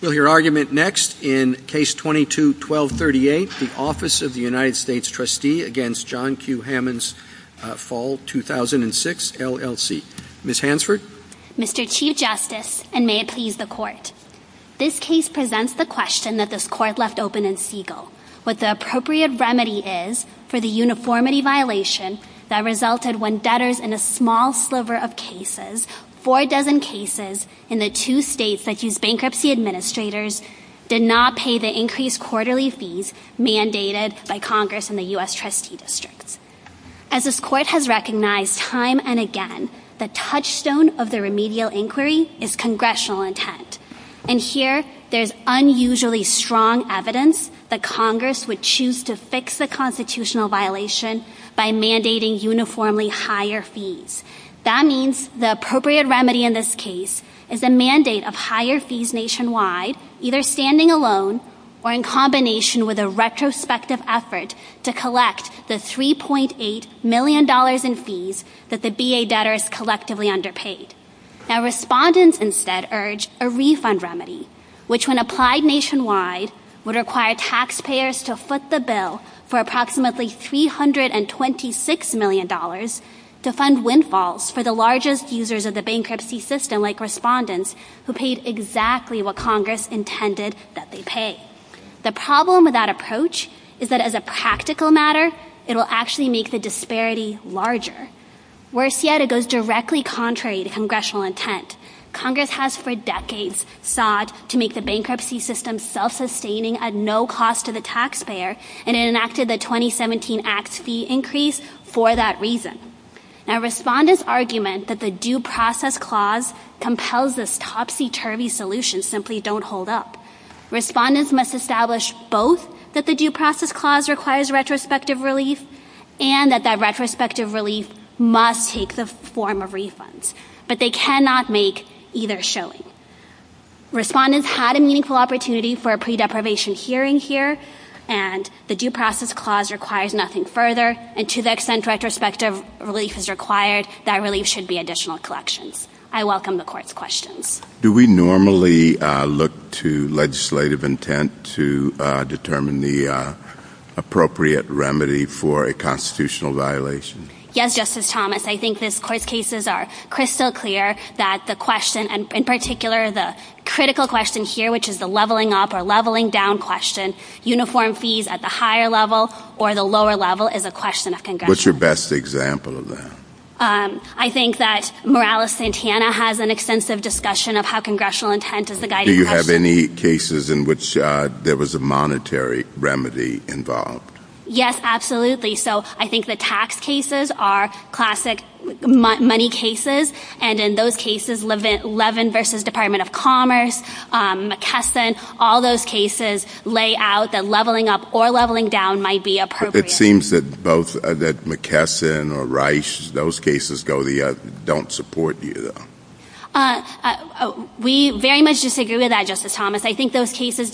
We'll hear argument next in Case 22-1238, the Office of the United States Trustee v. John Q. Hammons Fall 2006, LLC. Ms. Hansford? Mr. Chief Justice, and may it please the Court, this case presents the question that this Court left open in Segal. What the appropriate remedy is for the uniformity violation that resulted when debtors in a small sliver of cases, four dozen cases, in the two states that use bankruptcy administrators, did not pay the increased quarterly fees mandated by Congress and the U.S. Trustee Districts. As this Court has recognized time and again, the touchstone of the remedial inquiry is congressional intent. And here, there's unusually strong evidence that Congress would choose to fix the constitutional violation by mandating uniformly higher fees. That means the appropriate remedy in this case is a mandate of higher fees nationwide, either standing alone or in combination with a retrospective effort to collect the $3.8 million in fees that the B.A. debtors collectively underpaid. Now, respondents instead urge a refund remedy, which when applied nationwide, would require taxpayers to foot the bill for approximately $326 million to fund windfalls for the largest users of the bankruptcy system, like respondents, who paid exactly what Congress intended that they pay. The problem with that approach is that as a practical matter, it will actually make the disparity larger. Worse yet, it goes directly contrary to congressional intent. Congress has for decades sought to make the bankruptcy system self-sustaining at no cost to the taxpayer, and it enacted the 2017 Act's fee increase for that reason. Now, respondents' argument that the due process clause compels this topsy-turvy solution simply don't hold up. Respondents must establish both that the due process clause requires retrospective relief and that that retrospective relief must take the form of refunds, but they cannot make either showing. Respondents had a meaningful opportunity for a pre-deprivation hearing here, and the due process clause requires nothing further, and to the extent retrospective relief is required, that relief should be additional collections. I welcome the Court's questions. Do we normally look to legislative intent to determine the appropriate remedy for a constitutional violation? Yes, Justice Thomas. I think this Court's cases are crystal clear that the question, and in particular, the critical question here, which is the leveling up or leveling down question, uniform fees at the higher level or the lower level, is a question of congressional intent. What's your best example of that? I think that Morales-Santana has an extensive discussion of how congressional intent is the guiding question. Do you have any cases in which there was a monetary remedy involved? Yes, absolutely. So I think the tax cases are classic money cases, and in those cases, Levin v. Department of Commerce, McKesson, all those cases lay out that leveling up or leveling down might be appropriate. It seems that both McKesson or Reich, those cases don't support you, though. We very much disagree with that, Justice Thomas. I think those cases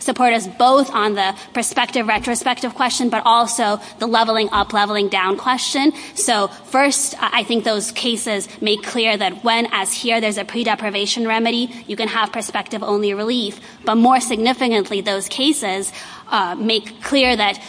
support us both on the prospective retrospective question, but also the leveling up, leveling down question. So first, I think those cases make clear that when, as here, there's a pre-deprivation remedy, you can have prospective-only relief. But more significantly, those cases make clear that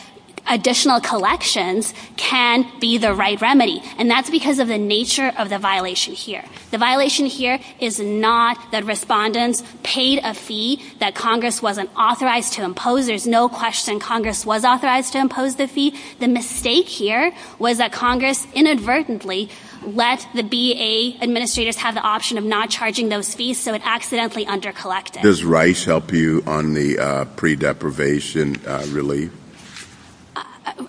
additional collections can be the right remedy, and that's because of the nature of the violation here. The violation here is not that respondents paid a fee that Congress wasn't authorized to impose. There's no question Congress was authorized to impose the fee. The mistake here was that Congress inadvertently let the BA administrators have the option of not charging those fees, so it accidentally under-collected. Does Reich help you on the pre-deprivation relief?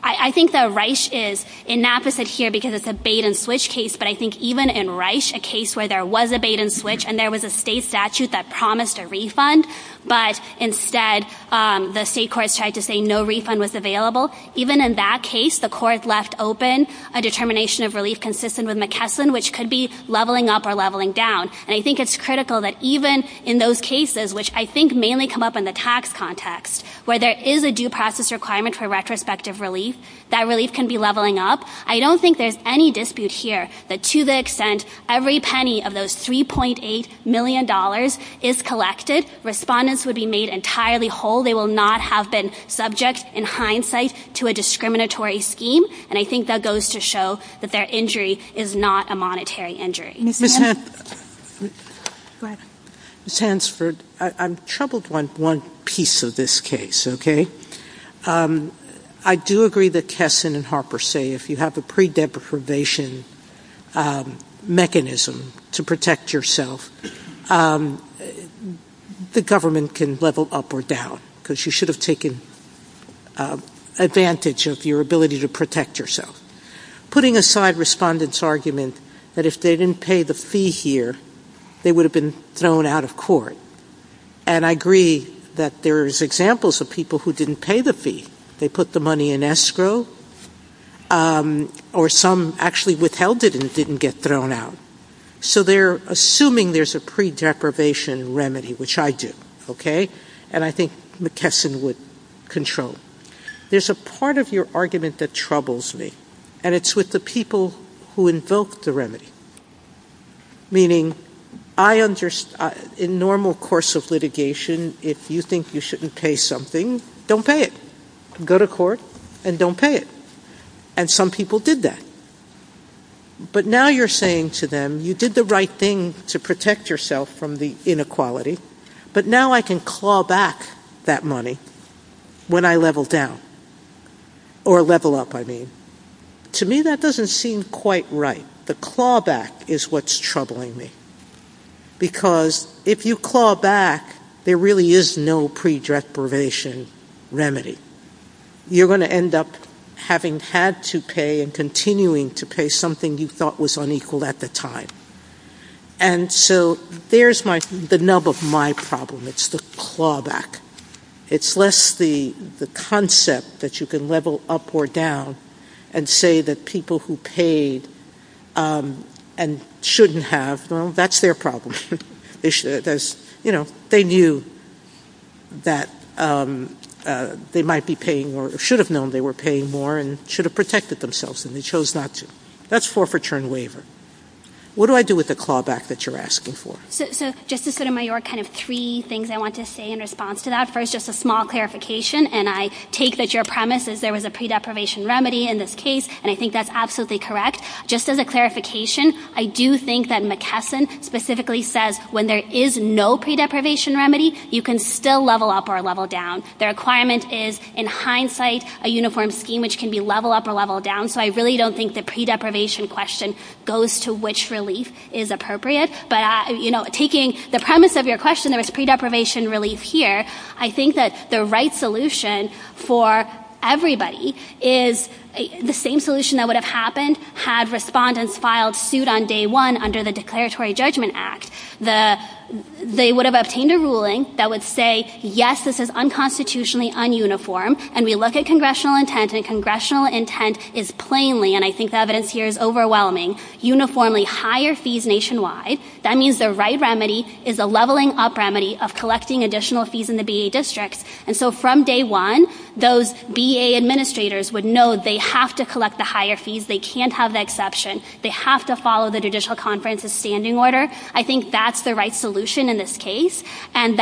I think that Reich is inapposite here because it's a bait-and-switch case, but I think even in Reich, a case where there was a bait-and-switch and there was a state statute that promised a refund, but instead the state courts tried to say no refund was available, even in that case, the court left open a determination of relief consistent with McKesson, which could be leveling up or leveling down. And I think it's critical that even in those cases, which I think mainly come up in the tax context, where there is a due process requirement for retrospective relief, that relief can be leveling up. I don't think there's any dispute here that to the extent every penny of those $3.8 million is collected, respondents would be made entirely whole. They will not have been subject in hindsight to a discriminatory scheme, and I think that goes to show that their injury is not a monetary injury. Ms. Hansford, I'm troubled by one piece of this case, okay? I do agree that Kessin and Harper say if you have a pre-deprivation mechanism to protect yourself, the government can level up or down, because you should have taken advantage of your ability to protect yourself. Putting aside respondents' argument that if they didn't pay the fee here, they would have been thrown out of court, and I agree that there's examples of people who didn't pay the fee. They put the money in escrow, or some actually withheld it and didn't get thrown out. So they're assuming there's a pre-deprivation remedy, which I do, okay? And I think McKesson would control. There's a part of your argument that troubles me, and it's with the people who invoked the remedy, meaning in normal course of litigation, if you think you shouldn't pay something, don't pay it. Go to court and don't pay it, and some people did that. But now you're saying to them, you did the right thing to protect yourself from the inequality, but now I can claw back that money when I level down, or level up, I mean. To me, that doesn't seem quite right. The clawback is what's troubling me, because if you claw back, there really is no pre-deprivation remedy. You're going to end up having had to pay and continuing to pay something you thought was unequal at the time. And so there's the nub of my problem. It's the clawback. It's less the concept that you can level up or down and say that people who paid and shouldn't have, well, that's their problem. They knew that they might be paying more, or should have known they were paying more, and should have protected themselves, and they chose not to. That's forfeiture and waiver. What do I do with the clawback that you're asking for? So, Justice Sotomayor, kind of three things I want to say in response to that. First, just a small clarification, and I take that your premise is there was a pre-deprivation remedy in this case, and I think that's absolutely correct. Just as a clarification, I do think that McKesson specifically says when there is no pre-deprivation remedy, you can still level up or level down. The requirement is, in hindsight, a uniform scheme which can be level up or level down, so I really don't think the pre-deprivation question goes to which relief is appropriate. But, you know, taking the premise of your question, there was pre-deprivation relief here, I think that the right solution for everybody is the same solution that would have happened had respondents filed suit on day one under the Declaratory Judgment Act. They would have obtained a ruling that would say, yes, this is unconstitutionally ununiform, and we look at congressional intent, and congressional intent is plainly, and I think the evidence here is overwhelming, uniformly higher fees nationwide. That means the right remedy is a leveling up remedy of collecting additional fees in the BA districts, and so from day one, those BA administrators would know they have to collect the higher fees, they can't have the exception, they have to follow the Judicial Conference's standing order. I think that's the right solution in this case, and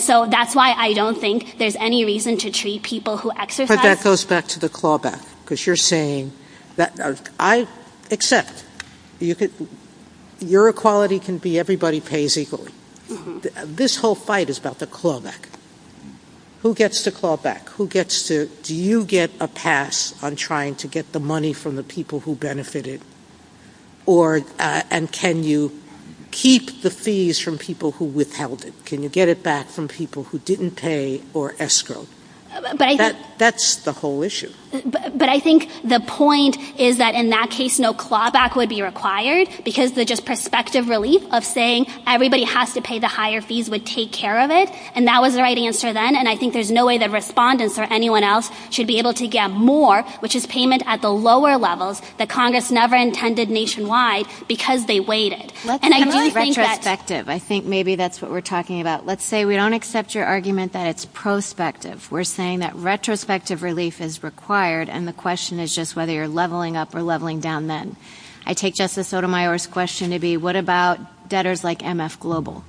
so that's why I don't think there's any reason to treat people who exercise But that goes back to the clawback, because you're saying that I accept your equality can be everybody pays equally. This whole fight is about the clawback. Who gets the clawback? Do you get a pass on trying to get the money from the people who benefited, and can you keep the fees from people who withheld it? Can you get it back from people who didn't pay or escrowed? That's the whole issue. But I think the point is that in that case, no clawback would be required, because the just prospective relief of saying everybody has to pay the higher fees would take care of it, and that was the right answer then, and I think there's no way that respondents or anyone else should be able to get more, which is payment at the lower levels that Congress never intended nationwide, because they waited. And I do think that Retrospective, I think maybe that's what we're talking about. Let's say we don't accept your argument that it's prospective. We're saying that retrospective relief is required, and the question is just whether you're leveling up or leveling down then. I take Justice Sotomayor's question to be, what about debtors like MF Global?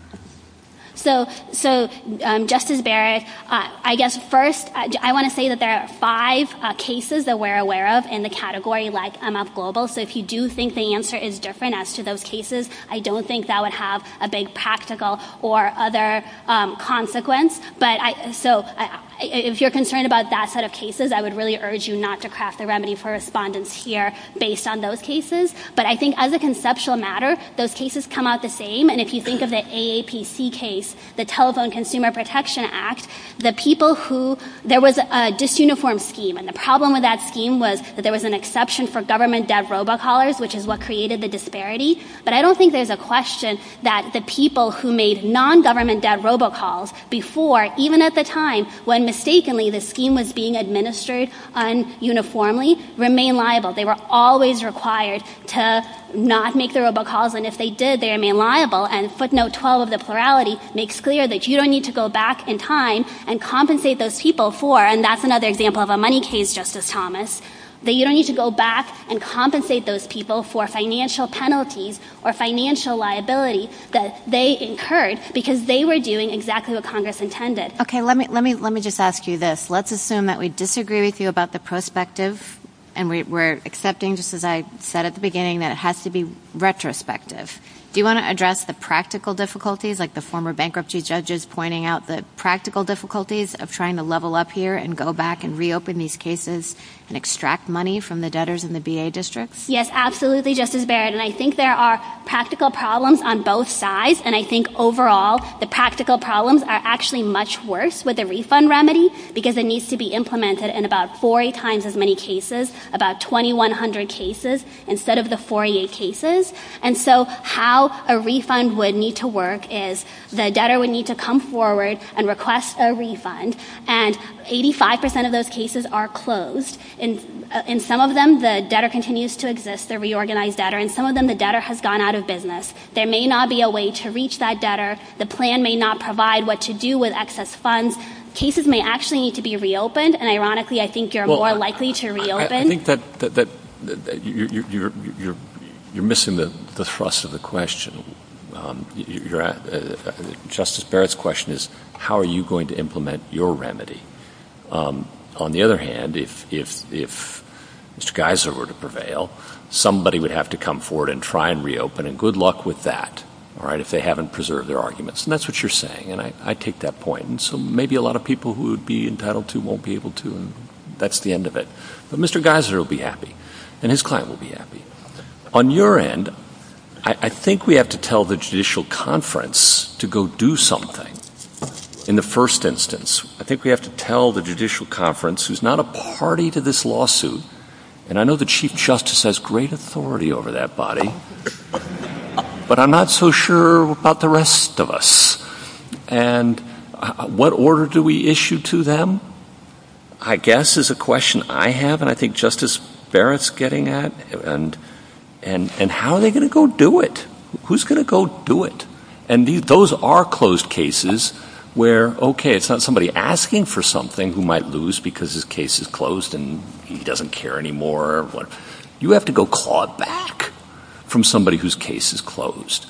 So, Justice Barrett, I guess first, I want to say that there are five cases that we're aware of in the category like MF Global, so if you do think the answer is different as to those cases, I don't think that would have a big practical or other consequence. So, if you're concerned about that set of cases, I would really urge you not to craft a remedy for respondents here based on those cases. But I think as a conceptual matter, those cases come out the same, and if you think of the AAPC case, the Telephone Consumer Protection Act, there was a disuniform scheme, and the problem with that scheme was that there was an exception for government-debt robocallers, which is what created the disparity. But I don't think there's a question that the people who made non-government-debt robocalls before, even at the time when mistakenly the scheme was being administered un-uniformly, remained liable. They were always required to not make the robocalls, and if they did, they remained liable. And footnote 12 of the plurality makes clear that you don't need to go back in time and compensate those people for, and that's another example of a money case, Justice Thomas, that you don't need to go back and compensate those people for financial penalties or financial liability that they incurred because they were doing exactly what Congress intended. Okay, let me just ask you this. Let's assume that we disagree with you about the prospective, and we're accepting, just as I said at the beginning, that it has to be retrospective. Do you want to address the practical difficulties, like the former bankruptcy judges pointing out the practical difficulties of trying to level up here and go back and reopen these cases and extract money from the debtors in the B.A. districts? Yes, absolutely, Justice Barrett, and I think there are practical problems on both sides, and I think overall the practical problems are actually much worse with the refund remedy because it needs to be implemented in about 40 times as many cases, about 2,100 cases, instead of the 48 cases. And so how a refund would need to work is the debtor would need to come forward and request a refund, and 85 percent of those cases are closed. In some of them, the debtor continues to exist, the reorganized debtor. In some of them, the debtor has gone out of business. There may not be a way to reach that debtor. The plan may not provide what to do with excess funds. Cases may actually need to be reopened, and ironically, I think you're more likely to reopen. I think that you're missing the thrust of the question. Justice Barrett's question is how are you going to implement your remedy? On the other hand, if Mr. Geiser were to prevail, somebody would have to come forward and try and reopen, and good luck with that, all right, if they haven't preserved their arguments. And that's what you're saying, and I take that point. And so maybe a lot of people who would be entitled to won't be able to, and that's the end of it. But Mr. Geiser will be happy, and his client will be happy. On your end, I think we have to tell the Judicial Conference to go do something in the first instance. I think we have to tell the Judicial Conference, who's not a party to this lawsuit, and I know the Chief Justice has great authority over that body, but I'm not so sure about the rest of us. And what order do we issue to them? I guess is a question I have, and I think Justice Barrett's getting at, and how are they going to go do it? Who's going to go do it? And those are closed cases where, okay, it's not somebody asking for something who might lose because his case is closed and he doesn't care anymore. You have to go claw back from somebody whose case is closed.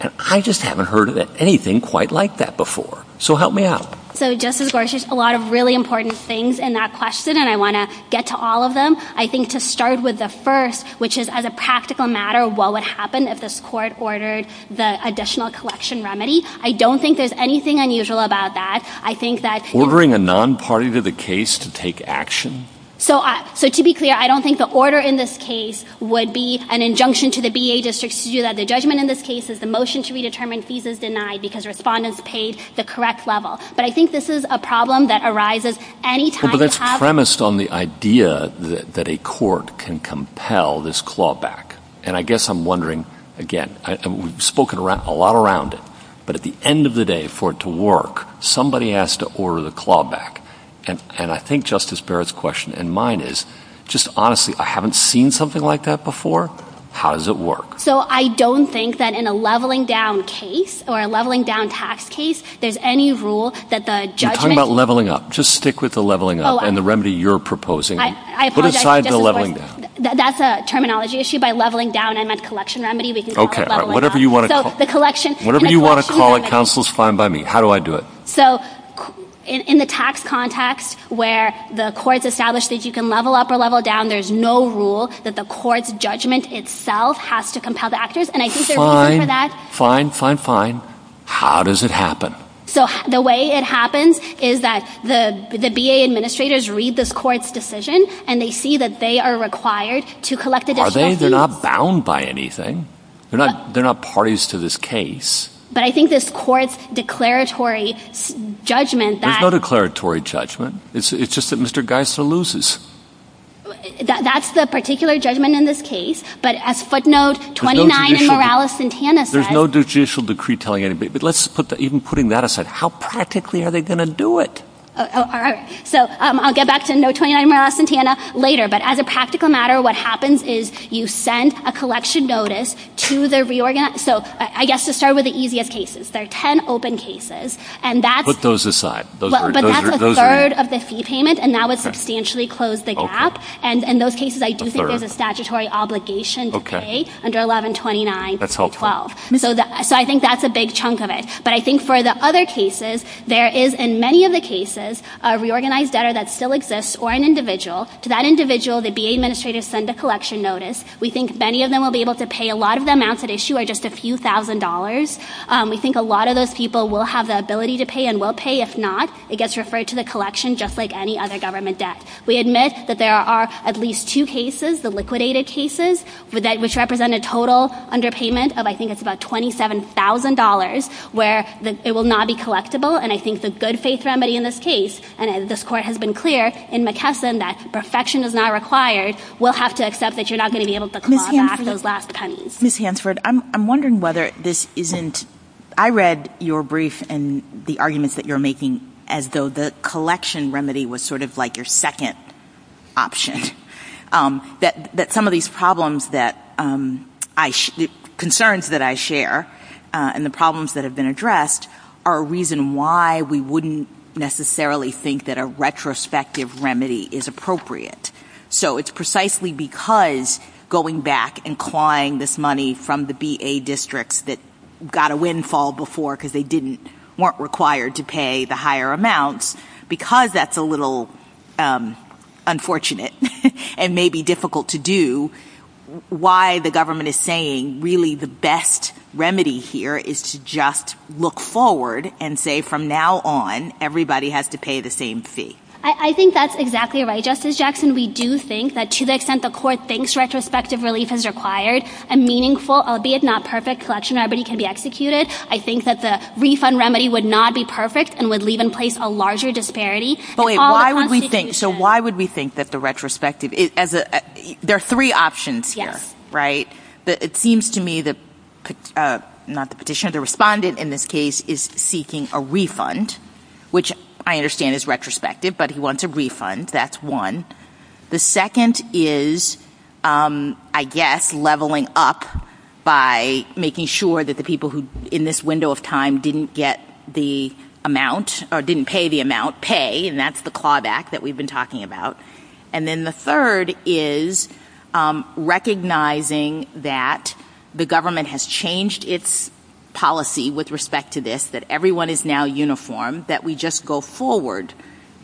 And I just haven't heard anything quite like that before. So help me out. So Justice Gorsuch, a lot of really important things in that question, and I want to get to all of them. I think to start with the first, which is as a practical matter, what would happen if this court ordered the additional collection remedy? I don't think there's anything unusual about that. I think that— Ordering a non-party to the case to take action? So to be clear, I don't think the order in this case would be an injunction to the BA districts to do that. The judgment in this case is the motion to redetermine fees is denied because respondents paid the correct level. But I think this is a problem that arises any time you have— But that's premised on the idea that a court can compel this claw back. And I guess I'm wondering, again, we've spoken a lot around it, but at the end of the day, for it to work, somebody has to order the claw back. And I think Justice Barrett's question and mine is, just honestly, I haven't seen something like that before. How does it work? So I don't think that in a leveling down case or a leveling down tax case, there's any rule that the judgment— You're talking about leveling up. Just stick with the leveling up and the remedy you're proposing. I apologize, Justice Barrett. Put aside the leveling down. That's a terminology issue. By leveling down, I meant collection remedy. We can call it leveling down. Whatever you want to call it, counsel, is fine by me. How do I do it? So in the tax context where the court's established that you can level up or level down, there's no rule that the court's judgment itself has to compel the actors. And I think there's a reason for that. Fine, fine, fine, fine. How does it happen? So the way it happens is that the B.A. administrators read this court's decision and they see that they are required to collect additional fees. Are they? They're not bound by anything. They're not parties to this case. But I think this court's declaratory judgment that— There's no declaratory judgment. It's just that Mr. Geisler loses. That's the particular judgment in this case. But as footnote 29 in Morales-Santana says— There's no judicial decree telling anybody. But even putting that aside, how practically are they going to do it? All right. So I'll get back to note 29 in Morales-Santana later. But as a practical matter, what happens is you send a collection notice to the reorganized— So I guess to start with the easiest cases, there are 10 open cases. Put those aside. But that's a third of the fee payment, and that would substantially close the gap. And in those cases, I do think there's a statutory obligation to pay under 1129. That's helpful. So I think that's a big chunk of it. But I think for the other cases, there is, in many of the cases, a reorganized debtor that still exists or an individual. To that individual, the B.A. administrators send a collection notice. We think many of them will be able to pay. A lot of the amounts at issue are just a few thousand dollars. We think a lot of those people will have the ability to pay and will pay. If not, it gets referred to the collection just like any other government debt. We admit that there are at least two cases, the liquidated cases, which represent a total underpayment of I think it's about $27,000, where it will not be collectible. And I think the good faith remedy in this case, and this Court has been clear in McKesson that perfection is not required. We'll have to accept that you're not going to be able to claw back those last pennies. Ms. Hansford, I'm wondering whether this isn't ‑‑ I read your brief and the arguments that you're making as though the collection remedy was sort of like your second option. That some of these problems that I ‑‑ concerns that I share and the problems that have been addressed are a reason why we wouldn't necessarily think that a retrospective remedy is appropriate. So it's precisely because going back and clawing this money from the BA districts that got a windfall before because they didn't ‑‑ weren't required to pay the higher amounts, because that's a little unfortunate and maybe difficult to do, why the government is saying really the best remedy here is to just look forward and say from now on, everybody has to pay the same fee. I think that's exactly right, Justice Jackson. We do think that to the extent the Court thinks retrospective relief is required, a meaningful, albeit not perfect, collection remedy can be executed. I think that the refund remedy would not be perfect and would leave in place a larger disparity. But wait, why would we think ‑‑ so why would we think that the retrospective ‑‑ there are three options here, right? It seems to me that ‑‑ not the petitioner, the respondent in this case is seeking a refund, which I understand is retrospective, but he wants a refund. That's one. The second is, I guess, leveling up by making sure that the people who in this window of time didn't get the amount or didn't pay the amount pay, and that's the clawback that we've been talking about. And then the third is recognizing that the government has changed its policy with respect to this, that everyone is now uniform, that we just go forward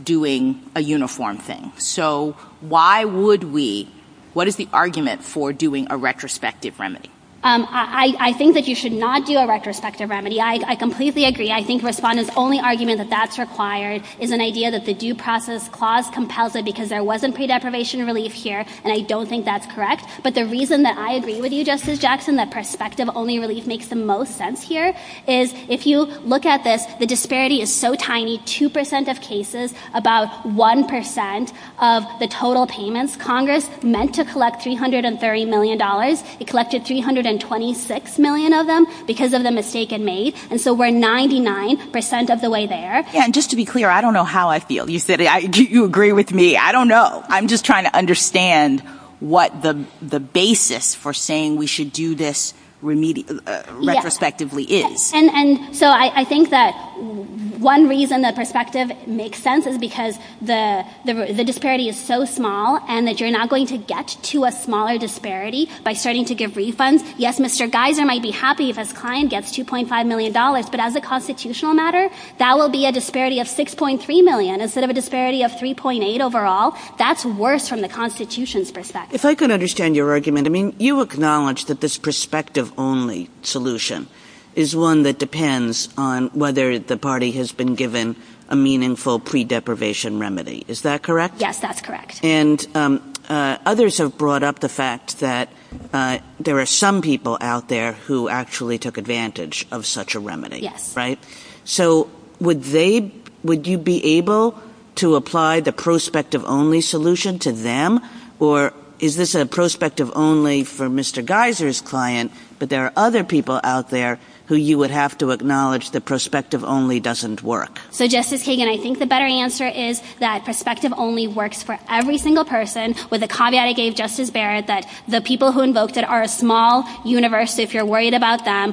doing a uniform thing. So why would we ‑‑ what is the argument for doing a retrospective remedy? I think that you should not do a retrospective remedy. I completely agree. I think respondents' only argument that that's required is an idea that the Due Process Clause compels it because there wasn't pre‑deprivation relief here, and I don't think that's correct. But the reason that I agree with you, Justice Jackson, that perspective only relief makes the most sense here, is if you look at this, the disparity is so tiny, 2% of cases, about 1% of the total payments. Congress meant to collect $330 million. It collected 326 million of them because of the mistake it made, and so we're 99% of the way there. And just to be clear, I don't know how I feel. You said you agree with me. I don't know. I'm just trying to understand what the basis for saying we should do this retrospectively is. And so I think that one reason that perspective makes sense is because the disparity is so small and that you're not going to get to a smaller disparity by starting to give refunds. Yes, Mr. Geiser might be happy if his client gets $2.5 million, but as a constitutional matter, that will be a disparity of 6.3 million instead of a disparity of 3.8 overall. That's worse from the Constitution's perspective. If I can understand your argument, you acknowledge that this perspective only solution is one that depends on whether the party has been given a meaningful pre-deprivation remedy. Is that correct? Yes, that's correct. And others have brought up the fact that there are some people out there who actually took advantage of such a remedy. Yes. So would you be able to apply the prospective only solution to them? Or is this a prospective only for Mr. Geiser's client, but there are other people out there who you would have to acknowledge the prospective only doesn't work? So Justice Kagan, I think the better answer is that prospective only works for every single person, with the caveat I gave Justice Barrett that the people who invoked it are a small universe, so if you're worried about them,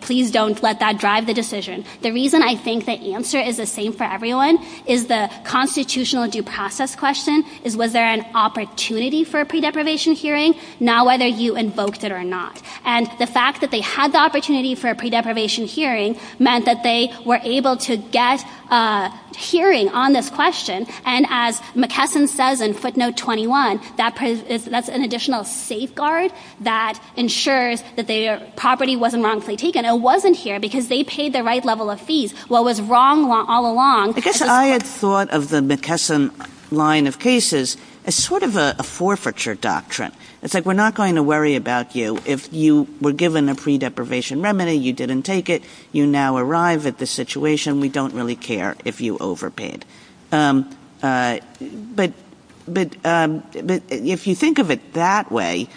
please don't let that drive the decision. The reason I think the answer is the same for everyone is the constitutional due process question is was there an opportunity for a pre-deprivation hearing? Now whether you invoked it or not. And the fact that they had the opportunity for a pre-deprivation hearing meant that they were able to get a hearing on this question, and as McKesson says in footnote 21, that's an additional safeguard that ensures that their property wasn't wrongfully taken. It wasn't here because they paid the right level of fees. What was wrong all along— I had thought of the McKesson line of cases as sort of a forfeiture doctrine. It's like we're not going to worry about you if you were given a pre-deprivation remedy, you didn't take it, you now arrive at the situation, we don't really care if you overpaid. But if you think of it that way,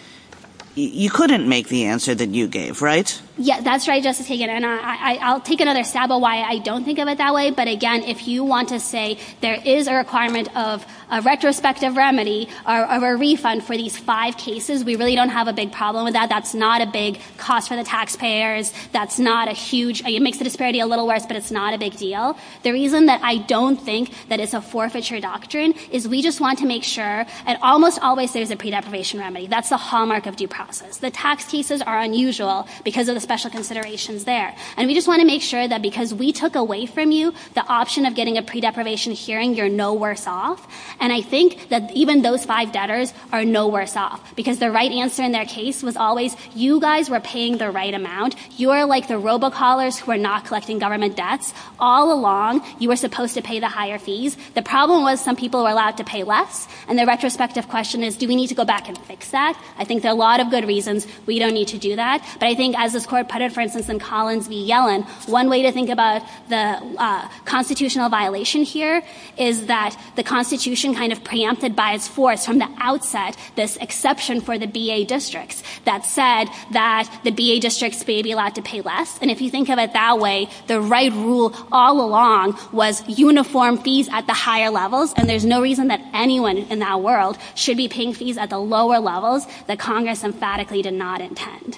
you couldn't make the answer that you gave, right? Yeah, that's right, Justice Hagan, and I'll take another stab at why I don't think of it that way, but again, if you want to say there is a requirement of a retrospective remedy or a refund for these five cases, we really don't have a big problem with that. That's not a big cost for the taxpayers. That's not a huge—it makes the disparity a little worse, but it's not a big deal. The reason that I don't think that it's a forfeiture doctrine is we just want to make sure—and almost always there's a pre-deprivation remedy. That's the hallmark of due process. The tax cases are unusual because of the special considerations there, and we just want to make sure that because we took away from you the option of getting a pre-deprivation hearing, you're no worse off. And I think that even those five debtors are no worse off because the right answer in their case was always you guys were paying the right amount. You are like the robocallers who are not collecting government debts. All along, you were supposed to pay the higher fees. The problem was some people were allowed to pay less, and the retrospective question is do we need to go back and fix that? I think there are a lot of good reasons we don't need to do that, but I think as this Court put it, for instance, in Collins v. Yellen, one way to think about the constitutional violation here is that the Constitution kind of preempted by its force from the outset this exception for the B.A. districts that said that the B.A. districts may be allowed to pay less. And if you think of it that way, the right rule all along was uniform fees at the higher levels, and there's no reason that anyone in that world should be paying fees at the lower levels that Congress emphatically did not intend.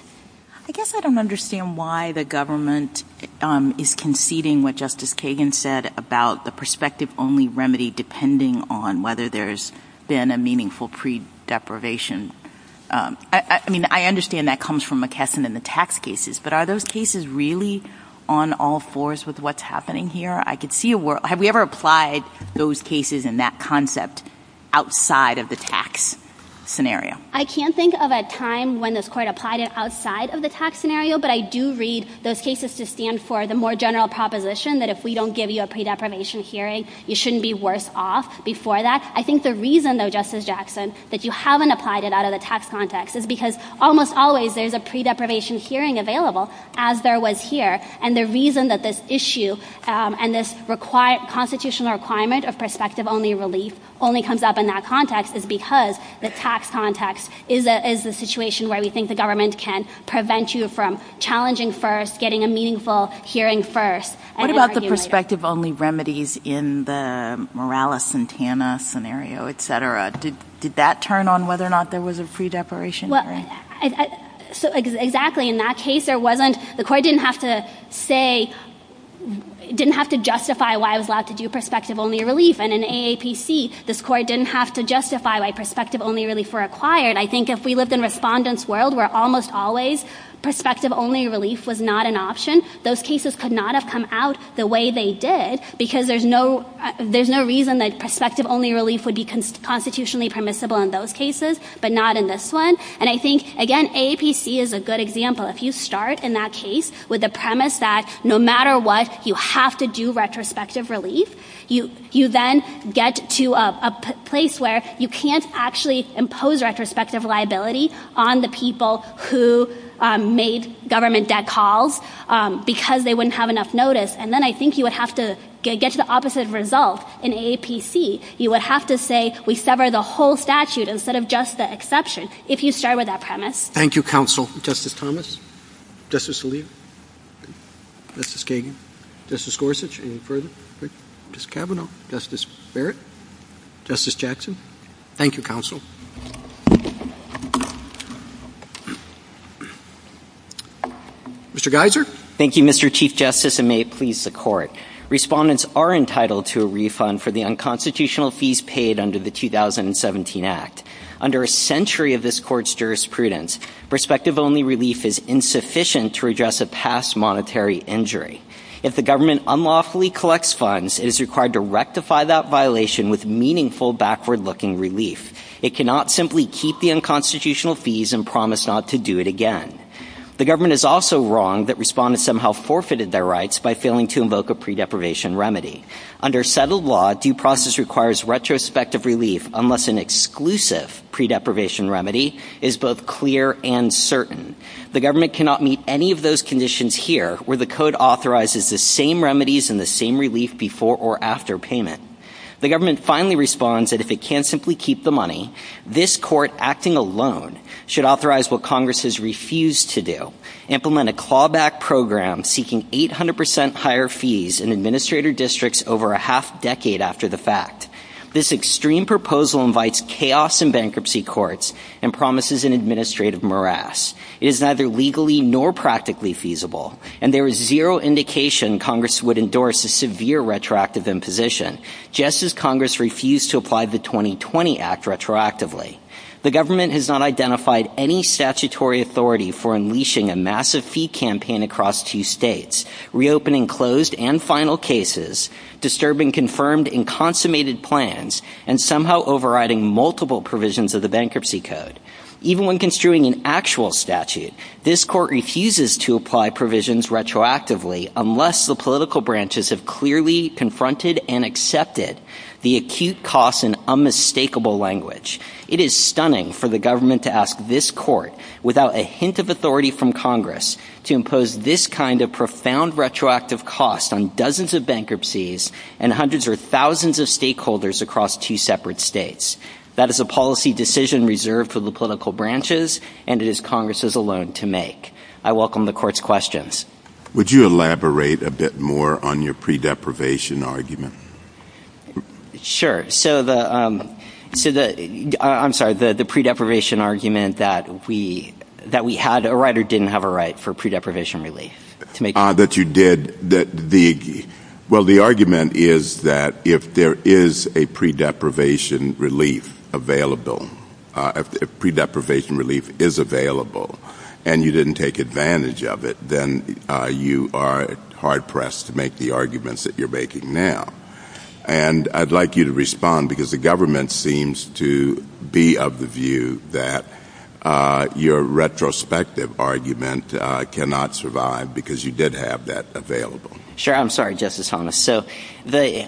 I guess I don't understand why the government is conceding what Justice Kagan said about the perspective-only remedy depending on whether there's been a meaningful pre-deprivation. I mean, I understand that comes from McKesson in the tax cases, but are those cases really on all fours with what's happening here? I could see a world – have we ever applied those cases and that concept outside of the tax scenario? I can't think of a time when this Court applied it outside of the tax scenario, but I do read those cases to stand for the more general proposition that if we don't give you a pre-deprivation hearing, you shouldn't be worse off before that. I think the reason, though, Justice Jackson, that you haven't applied it out of the tax context is because almost always there's a pre-deprivation hearing available, as there was here, and the reason that this issue and this constitutional requirement of perspective-only relief only comes up in that context is because the tax context is the situation where we think the government can prevent you from challenging first, getting a meaningful hearing first, and then arguing later. What about the perspective-only remedies in the Morales-Santana scenario, et cetera? Did that turn on whether or not there was a pre-deprivation hearing? Exactly. In that case, the Court didn't have to justify why I was allowed to do perspective-only relief, and in AAPC, this Court didn't have to justify why perspective-only relief were required. I think if we lived in Respondent's world, where almost always perspective-only relief was not an option, those cases could not have come out the way they did, because there's no reason that perspective-only relief would be constitutionally permissible in those cases, but not in this one. And I think, again, AAPC is a good example. If you start in that case with the premise that no matter what, you have to do retrospective relief, you then get to a place where you can't actually impose retrospective liability on the people who made government debt calls, because they wouldn't have enough notice. And then I think you would have to get to the opposite result in AAPC. You would have to say we sever the whole statute instead of just the exception, if you start with that premise. Thank you, Counsel. Justice Thomas? Justice Alito? Justice Kagan? Justice Gorsuch? Any further? Justice Kavanaugh? Justice Barrett? Justice Jackson? Thank you, Counsel. Mr. Geiser? Thank you, Mr. Chief Justice, and may it please the Court. Respondents are entitled to a refund for the unconstitutional fees paid under the 2017 Act. Under a century of this Court's jurisprudence, prospective-only relief is insufficient to redress a past monetary injury. If the government unlawfully collects funds, it is required to rectify that violation with meaningful, backward-looking relief. It cannot simply keep the unconstitutional fees and promise not to do it again. The government is also wrong that respondents somehow forfeited their rights by failing to invoke a pre-deprivation remedy. Under settled law, due process requires retrospective relief unless an exclusive pre-deprivation remedy is both clear and certain. The government cannot meet any of those conditions here, where the Code authorizes the same remedies and the same relief before or after payment. The government finally responds that if it can't simply keep the money, this Court, acting alone, should authorize what Congress has refused to do, implement a clawback program seeking 800% higher fees in administrator districts over a half-decade after the fact. This extreme proposal invites chaos in bankruptcy courts and promises an administrative morass. It is neither legally nor practically feasible, and there is zero indication Congress would endorse a severe retroactive imposition, just as Congress refused to apply the 2020 Act retroactively. The government has not identified any statutory authority for unleashing a massive fee campaign across two states, reopening closed and final cases, disturbing confirmed and consummated plans, and somehow overriding multiple provisions of the Bankruptcy Code. Even when construing an actual statute, this Court refuses to apply provisions retroactively unless the political branches have clearly confronted and accepted the acute costs in unmistakable language. It is stunning for the government to ask this Court, without a hint of authority from Congress, to impose this kind of profound retroactive cost on dozens of bankruptcies and hundreds or thousands of stakeholders across two separate states. That is a policy decision reserved for the political branches, and it is Congress's alone to make. I welcome the Court's questions. Would you elaborate a bit more on your pre-deprivation argument? Sure. So the pre-deprivation argument that we had a right or didn't have a right for pre-deprivation relief? Well, the argument is that if there is a pre-deprivation relief available, if pre-deprivation relief is available and you didn't take advantage of it, then you are hard-pressed to make the arguments that you're making now. And I'd like you to respond because the government seems to be of the view that your retrospective argument cannot survive because you did have that available. Sure. I'm sorry, Justice Thomas. So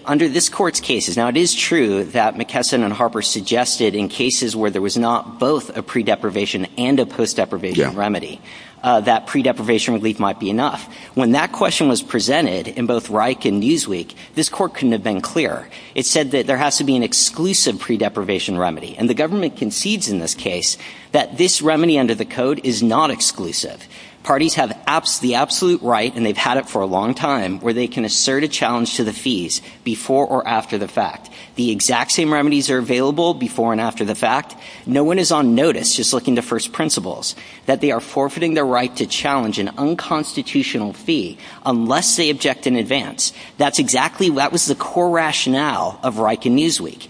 under this Court's cases, now it is true that McKesson and Harper suggested in cases where there was not both a pre-deprivation and a post-deprivation remedy that pre-deprivation relief might be enough. When that question was presented in both Reich and Newsweek, this Court couldn't have been clearer. It said that there has to be an exclusive pre-deprivation remedy, and the government concedes in this case that this remedy under the Code is not exclusive. Parties have the absolute right, and they've had it for a long time, where they can assert a challenge to the fees before or after the fact. The exact same remedies are available before and after the fact. No one is on notice, just looking to first principles, that they are forfeiting their right to challenge an unconstitutional fee unless they object in advance. That's exactly what was the core rationale of Reich and Newsweek.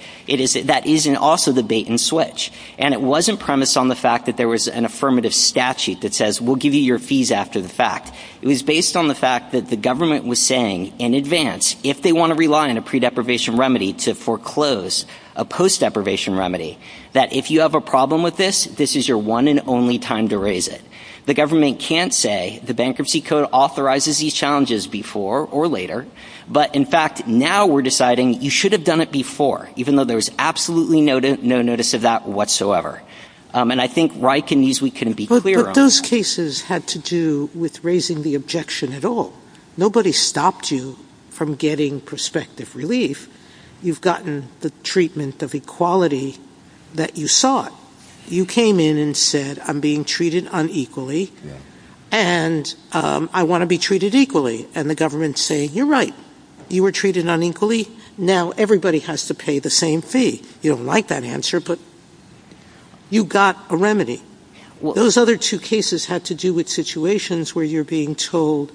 That is also the bait and switch. And it wasn't premised on the fact that there was an affirmative statute that says, we'll give you your fees after the fact. It was based on the fact that the government was saying in advance, if they want to rely on a pre-deprivation remedy to foreclose a post-deprivation remedy, that if you have a problem with this, this is your one and only time to raise it. The government can't say the Bankruptcy Code authorizes these challenges before or later, but in fact now we're deciding you should have done it before, even though there was absolutely no notice of that whatsoever. And I think Reich and Newsweek couldn't be clearer on that. But those cases had to do with raising the objection at all. Nobody stopped you from getting prospective relief. You've gotten the treatment of equality that you sought. You came in and said, I'm being treated unequally, and I want to be treated equally. And the government's saying, you're right. You were treated unequally. Now everybody has to pay the same fee. You don't like that answer, but you got a remedy. Those other two cases had to do with situations where you're being told,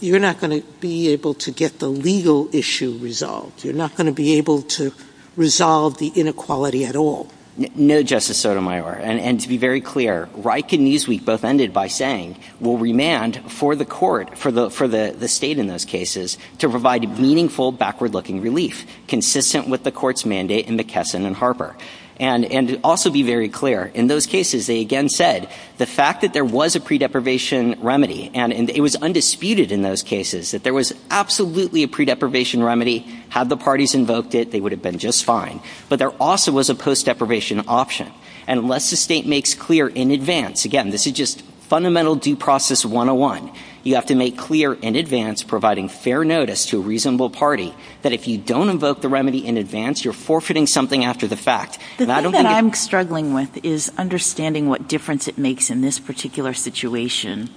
you're not going to be able to get the legal issue resolved. You're not going to be able to resolve the inequality at all. No, Justice Sotomayor. And to be very clear, Reich and Newsweek both ended by saying, we'll remand for the court, for the state in those cases, to provide meaningful backward-looking relief, consistent with the court's mandate in McKesson and Harper. And to also be very clear, in those cases they again said, the fact that there was a pre-deprivation remedy, and it was undisputed in those cases, that there was absolutely a pre-deprivation remedy. Had the parties invoked it, they would have been just fine. But there also was a post-deprivation option. Unless the state makes clear in advance, again, this is just fundamental due process 101. You have to make clear in advance, providing fair notice to a reasonable party, that if you don't invoke the remedy in advance, you're forfeiting something after the fact. The thing that I'm struggling with is understanding what difference it makes in this particular situation,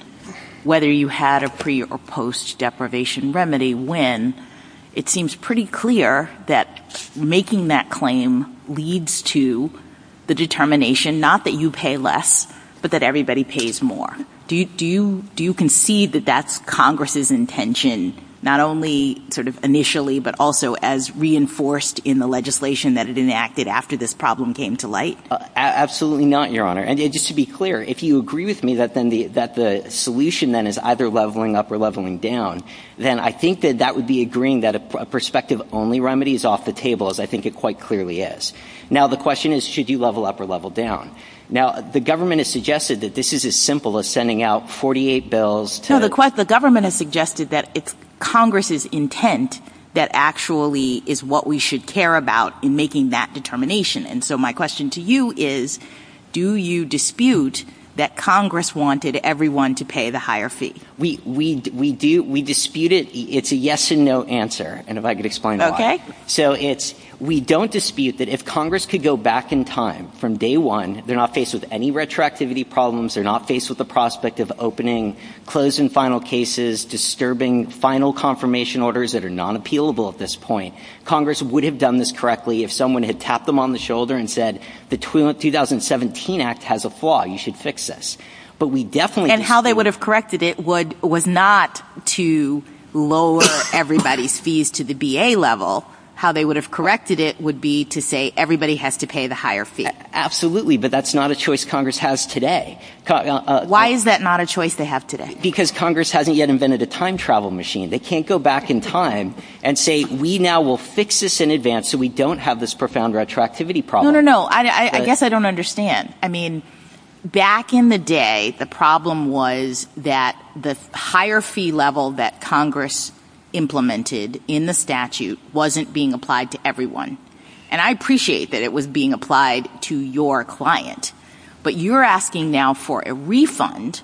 whether you had a pre- or post-deprivation remedy, when it seems pretty clear that making that claim leads to the determination, not that you pay less, but that everybody pays more. Do you concede that that's Congress's intention, not only sort of initially, but also as reinforced in the legislation that it enacted after this problem came to light? Absolutely not, Your Honor. And just to be clear, if you agree with me that the solution, then, is either leveling up or leveling down, then I think that that would be agreeing that a prospective-only remedy is off the table, as I think it quite clearly is. Now, the question is, should you level up or level down? Now, the government has suggested that this is as simple as sending out 48 bills to— No, the government has suggested that it's Congress's intent that actually is what we should care about in making that determination. And so my question to you is, do you dispute that Congress wanted everyone to pay the higher fee? We dispute it. It's a yes and no answer, and if I could explain why. Okay. So it's, we don't dispute that if Congress could go back in time from day one, they're not faced with any retroactivity problems, they're not faced with the prospect of opening closed and final cases, disturbing final confirmation orders that are non-appealable at this point. Congress would have done this correctly if someone had tapped them on the shoulder and said, the 2017 Act has a flaw, you should fix this. But we definitely— And how they would have corrected it would, was not to lower everybody's fees to the B.A. level. How they would have corrected it would be to say everybody has to pay the higher fee. Absolutely, but that's not a choice Congress has today. Why is that not a choice they have today? Because Congress hasn't yet invented a time travel machine. They can't go back in time and say, we now will fix this in advance so we don't have this profound retroactivity problem. No, no, no. I guess I don't understand. I mean, back in the day, the problem was that the higher fee level that Congress implemented in the statute wasn't being applied to everyone. And I appreciate that it was being applied to your client. But you're asking now for a refund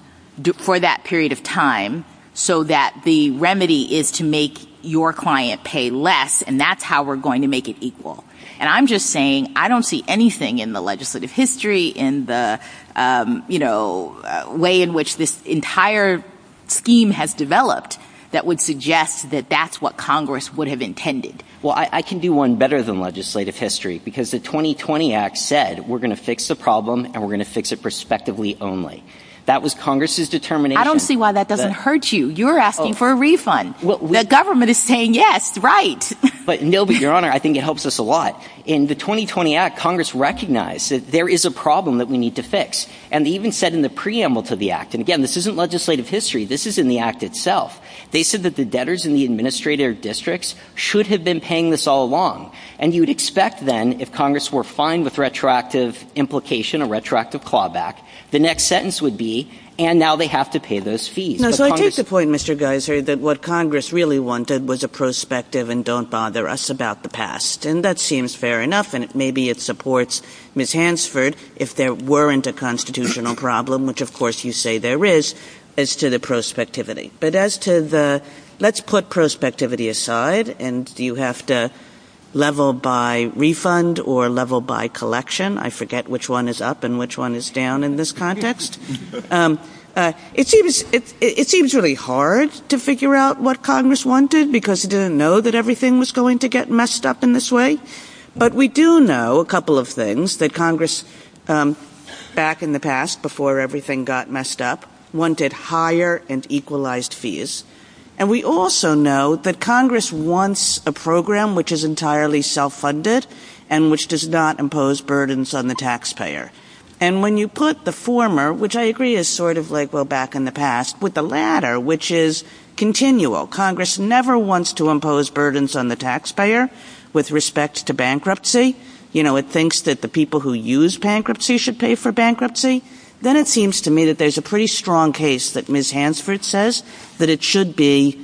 for that period of time so that the remedy is to make your client pay less and that's how we're going to make it equal. And I'm just saying, I don't see anything in the legislative history, in the way in which this entire scheme has developed that would suggest that that's what Congress would have intended. Well, I can do one better than legislative history because the 2020 Act said we're going to fix the problem and we're going to fix it prospectively only. That was Congress's determination. I don't see why that doesn't hurt you. You're asking for a refund. The government is saying yes, right. But no, but Your Honor, I think it helps us a lot. In the 2020 Act, Congress recognized that there is a problem that we need to fix. And even said in the preamble to the Act, and again, this isn't legislative history. This is in the Act itself. They said that the debtors in the administrative districts should have been paying this all along. And you'd expect then, if Congress were fine with retroactive implication, a retroactive clawback, the next sentence would be, and now they have to pay those fees. But Congress — No, so I take the point, Mr. Geiser, that what Congress really wanted was a prospective and don't bother us about the past. And that seems fair enough, and maybe it supports Ms. Hansford if there weren't a constitutional problem, which of course you say there is, as to the prospectivity. But as to the — let's put prospectivity aside, and you have to level by refund or level by collection. I forget which one is up and which one is down in this context. It seems really hard to figure out what Congress wanted, because it didn't know that everything was going to get messed up in this way. But we do know a couple of things, that Congress, back in the past, before everything got messed up, wanted higher and equalized fees. And we also know that Congress wants a program which is entirely self-funded and which does not impose burdens on the taxpayer. And when you put the former, which I agree is sort of like, well, back in the past, with the latter, which is continual, Congress never wants to impose burdens on the taxpayer with respect to bankruptcy. You know, it thinks that the people who use bankruptcy should pay for bankruptcy. Then it seems to me that there's a pretty strong case that Ms. Hansford says, that it should be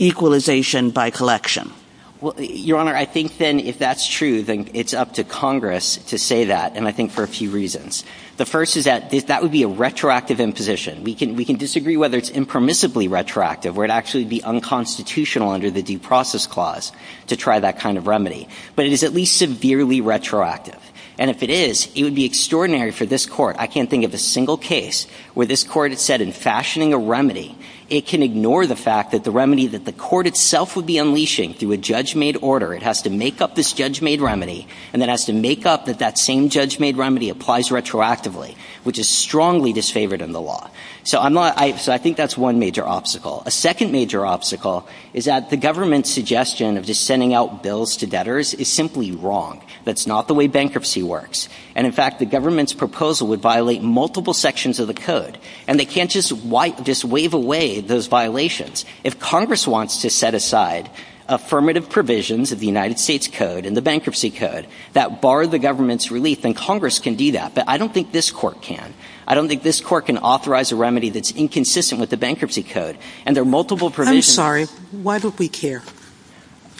equalization by collection. Well, Your Honor, I think then if that's true, then it's up to Congress to say that, and I think for a few reasons. The first is that that would be a retroactive imposition. We can disagree whether it's impermissibly retroactive, where it actually would be unconstitutional under the Due Process Clause to try that kind of remedy. But it is at least severely retroactive. And if it is, it would be extraordinary for this Court. I can't think of a single case where this Court had said in fashioning a remedy, it can ignore the fact that the remedy that the Court itself would be unleashing through a judge-made order, it has to make up this judge-made remedy, and then has to make up that that same judge-made remedy applies retroactively, which is strongly disfavored in the law. So I think that's one major obstacle. A second major obstacle is that the government's suggestion of just sending out bills to debtors is simply wrong. That's not the way bankruptcy works. And, in fact, the government's proposal would violate multiple sections of the Code. And they can't just wave away those violations. If Congress wants to set aside affirmative provisions of the United States Code and the Bankruptcy Code that bar the government's relief, then Congress can do that. But I don't think this Court can. I don't think this Court can authorize a remedy that's inconsistent with the Bankruptcy Code. And there are multiple provisions. I'm sorry. Why don't we care?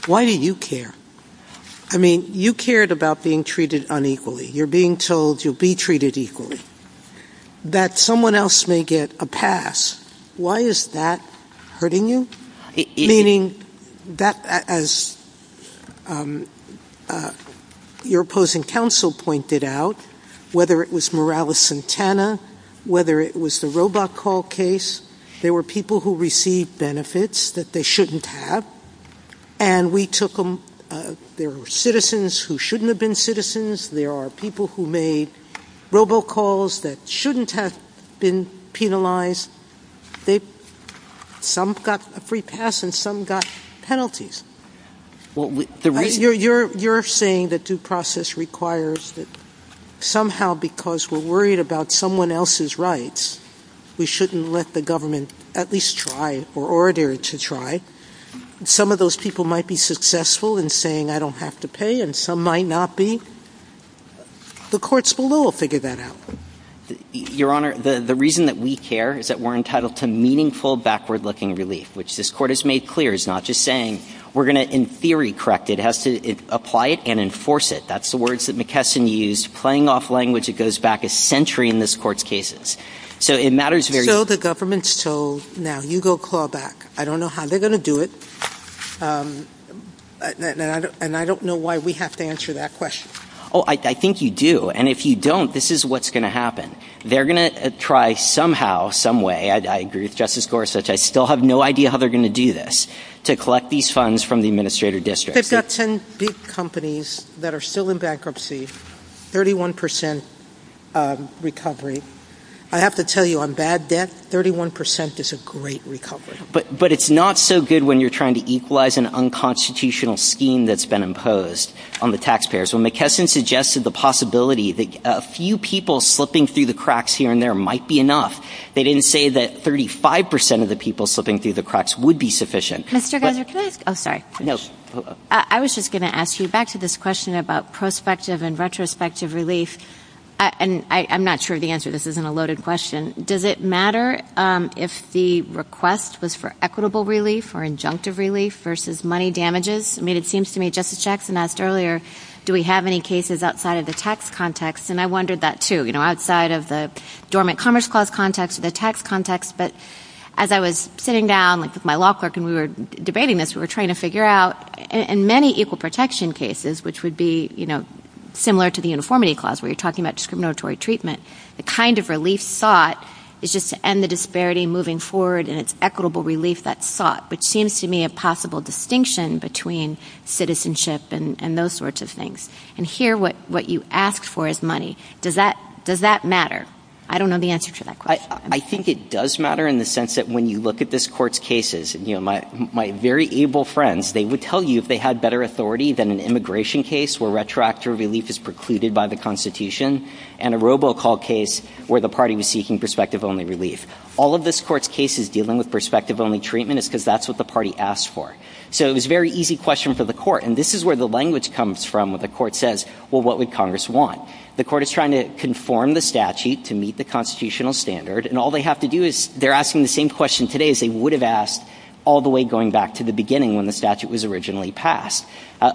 Why do you care? I mean, you cared about being treated unequally. You're being told you'll be treated equally. That someone else may get a pass, why is that hurting you? Meaning that, as your opposing counsel pointed out, whether it was Morales-Santana, whether it was the robocall case, there were people who received benefits that they shouldn't have, and we took them. There were citizens who shouldn't have been citizens. There are people who made robocalls that shouldn't have been penalized. Some got a free pass and some got penalties. You're saying that due process requires that somehow because we're worried about someone else's rights, we shouldn't let the government at least try or order to try. Some of those people might be successful in saying I don't have to pay and some might not be. The courts below will figure that out. Your Honor, the reason that we care is that we're entitled to meaningful backward-looking relief, which this Court has made clear is not just saying we're going to, in theory, correct it. It has to apply it and enforce it. That's the words that McKesson used, playing off language that goes back a century in this Court's cases. So the government's told, now you go call back. I don't know how they're going to do it, and I don't know why we have to answer that question. Oh, I think you do, and if you don't, this is what's going to happen. They're going to try somehow, some way, I agree with Justice Gorsuch, I still have no idea how they're going to do this, to collect these funds from the Administrator District. They've got 10 big companies that are still in bankruptcy, 31 percent recovery. I have to tell you, on bad debt, 31 percent is a great recovery. But it's not so good when you're trying to equalize an unconstitutional scheme that's been imposed on the taxpayers. When McKesson suggested the possibility that a few people slipping through the cracks here and there might be enough, they didn't say that 35 percent of the people slipping through the cracks would be sufficient. Mr. Geiser, can I ask – oh, sorry. I was just going to ask you, back to this question about prospective and retrospective relief, and I'm not sure of the answer, this isn't a loaded question. Does it matter if the request was for equitable relief or injunctive relief versus money damages? I mean, it seems to me Justice Jackson asked earlier, do we have any cases outside of the tax context, and I wondered that too, you know, outside of the dormant commerce clause context or the tax context. But as I was sitting down with my law clerk and we were debating this, we were trying to figure out in many equal protection cases, which would be, you know, similar to the uniformity clause where you're talking about discriminatory treatment, the kind of relief sought is just to end the disparity moving forward and it's equitable relief that's sought, which seems to me a possible distinction between citizenship and those sorts of things. And here what you asked for is money. Does that matter? I don't know the answer to that question. I think it does matter in the sense that when you look at this Court's cases, you know, my very able friends, they would tell you if they had better authority than an immigration case where retroactive relief is precluded by the Constitution, and a robocall case where the party was seeking prospective-only relief. All of this Court's cases dealing with prospective-only treatment is because that's what the party asked for. So it was a very easy question for the Court, and this is where the language comes from when the Court says, well, what would Congress want? The Court is trying to conform the statute to meet the constitutional standard, and all they have to do is they're asking the same question today as they would have asked all the way going back to the beginning when the statute was originally passed.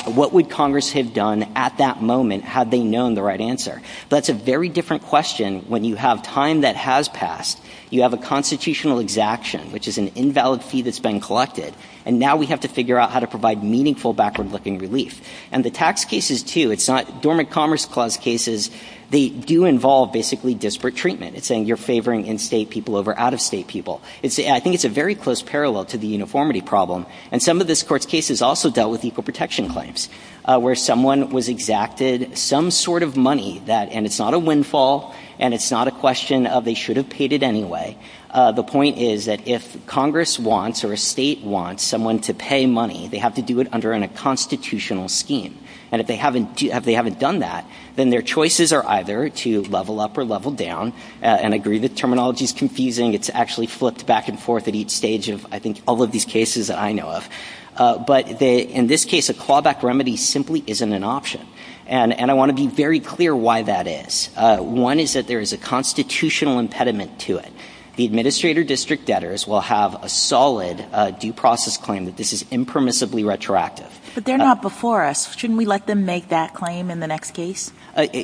What would Congress have done at that moment had they known the right answer? That's a very different question when you have time that has passed. You have a constitutional exaction, which is an invalid fee that's been collected, and now we have to figure out how to provide meaningful backward-looking relief. And the tax cases, too, it's not Dormant Commerce Clause cases. They do involve basically disparate treatment. It's saying you're favoring in-state people over out-of-state people. I think it's a very close parallel to the uniformity problem, and some of this Court's cases also dealt with equal protection claims where someone was exacted some sort of money that – and it's not a windfall, and it's not a question of they should have paid it anyway. The point is that if Congress wants or a State wants someone to pay money, they have to do it under a constitutional scheme. And if they haven't done that, then their choices are either to level up or level down. And I agree the terminology is confusing. It's actually flipped back and forth at each stage of, I think, all of these cases that I know of. But in this case, a clawback remedy simply isn't an option. And I want to be very clear why that is. One is that there is a constitutional impediment to it. The administrator district debtors will have a solid due process claim that this is impermissibly retroactive. But they're not before us. Shouldn't we let them make that claim in the next case?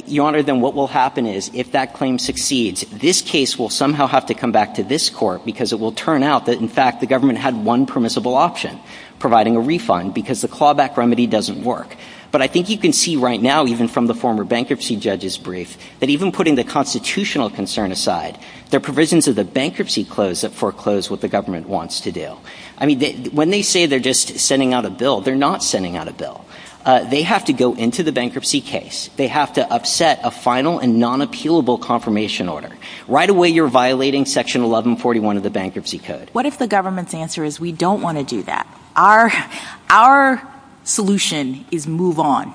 Your Honor, then what will happen is if that claim succeeds, this case will somehow have to come back to this Court because it will turn out that, in fact, the government had one permissible option, providing a refund, because the clawback remedy doesn't work. But I think you can see right now, even from the former bankruptcy judge's brief, that even putting the constitutional concern aside, there are provisions of the bankruptcy clause that foreclose what the government wants to do. I mean, when they say they're just sending out a bill, they're not sending out a bill. They have to go into the bankruptcy case. They have to upset a final and non-appealable confirmation order. Right away, you're violating Section 1141 of the Bankruptcy Code. What if the government's answer is, we don't want to do that? Our solution is move on.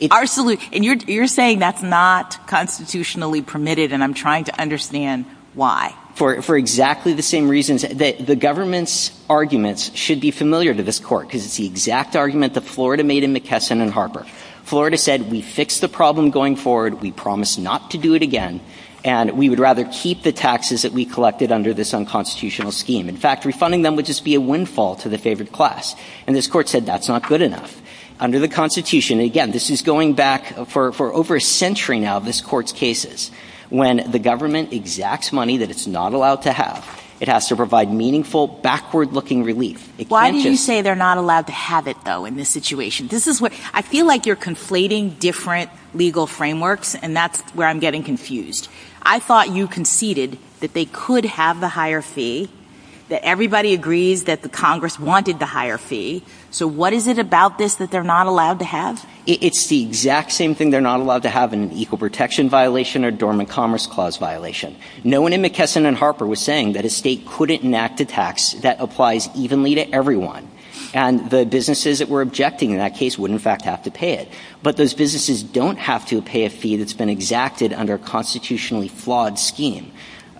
And you're saying that's not constitutionally permitted, and I'm trying to understand why. For exactly the same reasons that the government's arguments should be familiar to this Court, because it's the exact argument that Florida made in McKesson and Harper. Florida said, we fixed the problem going forward. We promised not to do it again, and we would rather keep the taxes that we collected under this unconstitutional scheme. In fact, refunding them would just be a windfall to the favored class. And this Court said, that's not good enough. Under the Constitution, again, this is going back for over a century now, this Court's arguments. When the government exacts money that it's not allowed to have, it has to provide meaningful, backward-looking relief. Why do you say they're not allowed to have it, though, in this situation? I feel like you're conflating different legal frameworks, and that's where I'm getting confused. I thought you conceded that they could have the higher fee, that everybody agrees that the Congress wanted the higher fee. So what is it about this that they're not allowed to have? It's the exact same thing they're not allowed to have in an Equal Protection violation or Dormant Commerce Clause violation. No one in McKesson and Harper was saying that a state couldn't enact a tax that applies evenly to everyone. And the businesses that were objecting in that case would, in fact, have to pay it. But those businesses don't have to pay a fee that's been exacted under a constitutionally flawed scheme.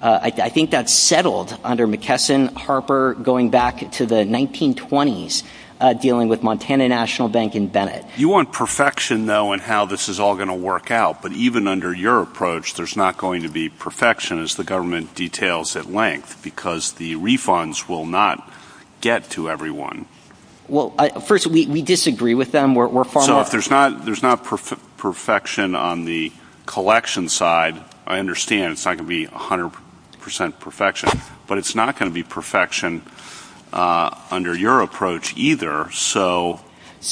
I think that's settled under McKesson, Harper, going back to the 1920s, dealing with Montana National Bank and Bennett. You want perfection, though, in how this is all going to work out. But even under your approach, there's not going to be perfection, as the government details at length, because the refunds will not get to everyone. Well, first, we disagree with them. So if there's not perfection on the collection side, I understand it's not going to be 100 percent perfection. But it's not going to be perfection under your approach either. So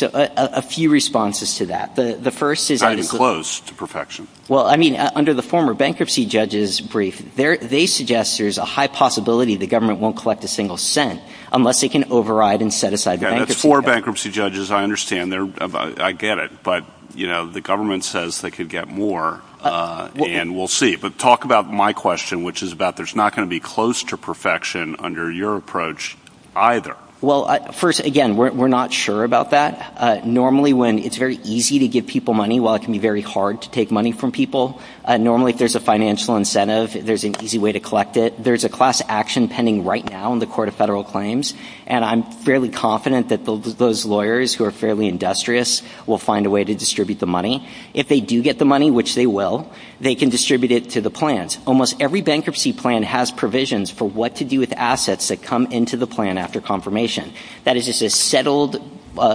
a few responses to that. The first is... Not even close to perfection. Well, I mean, under the former bankruptcy judge's brief, they suggest there's a high possibility the government won't collect a single cent unless they can override and set aside the bankruptcy. That's for bankruptcy judges. I understand. I get it. But, you know, the government says they could get more. And we'll see. But talk about my question, which is about there's not going to be close to perfection under your approach either. Well, first, again, we're not sure about that. Normally, when it's very easy to give people money, while it can be very hard to take money from people, normally if there's a financial incentive, there's an easy way to collect it. There's a class action pending right now in the Court of Federal Claims. And I'm fairly confident that those lawyers who are fairly industrious will find a way to distribute the money. If they do get the money, which they will, they can distribute it to the plans. Almost every bankruptcy plan has provisions for what to do with assets that come into the plan after confirmation. That is just a settled,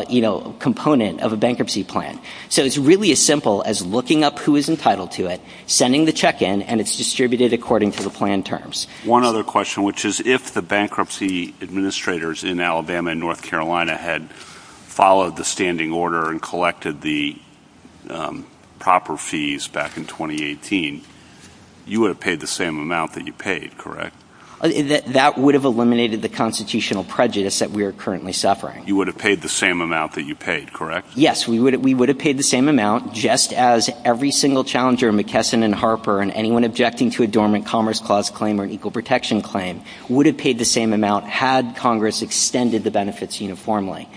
you know, component of a bankruptcy plan. So it's really as simple as looking up who is entitled to it, sending the check in, and it's distributed according to the plan terms. One other question, which is if the bankruptcy administrators in Alabama and North Carolina had followed the standing order and collected the proper fees back in 2018, you would have paid the same amount that you paid, correct? That would have eliminated the constitutional prejudice that we are currently suffering. You would have paid the same amount that you paid, correct? Yes. We would have paid the same amount, just as every single challenger, McKesson and Harper, and anyone objecting to a dormant commerce clause claim or an equal protection claim would have paid the same amount had Congress extended the benefits uniformly.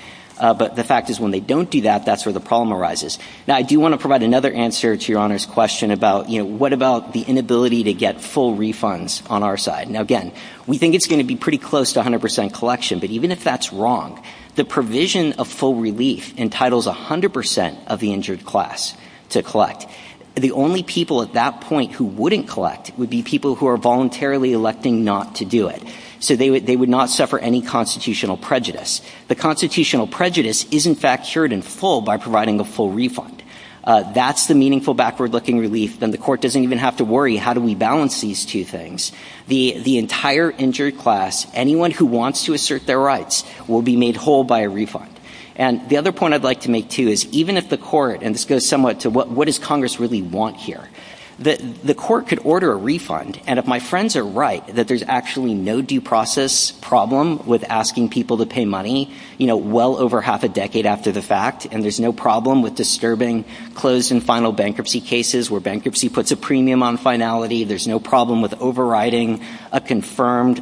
But the fact is when they don't do that, that's where the problem arises. Now, I do want to provide another answer to Your Honor's question about, you know, what about the inability to get full refunds on our side? Now, again, we think it's going to be pretty close to 100% collection, but even if that's wrong, the provision of full relief entitles 100% of the injured class to collect. The only people at that point who wouldn't collect would be people who are voluntarily electing not to do it. So they would not suffer any constitutional prejudice. The constitutional prejudice is, in fact, cured in full by providing a full refund. That's the meaningful backward-looking relief. Then the court doesn't even have to worry how do we balance these two things. The entire injured class, anyone who wants to assert their rights, will be made whole by a refund. And the other point I'd like to make, too, is even if the court, and this goes somewhat to what does Congress really want here, the court could order a refund. And if my friends are right that there's actually no due process problem with asking people to pay money, you know, well over half a decade after the fact, and there's no problem with disturbing closed and final bankruptcy cases where bankruptcy puts a premium on finality, there's no problem with overriding a confirmed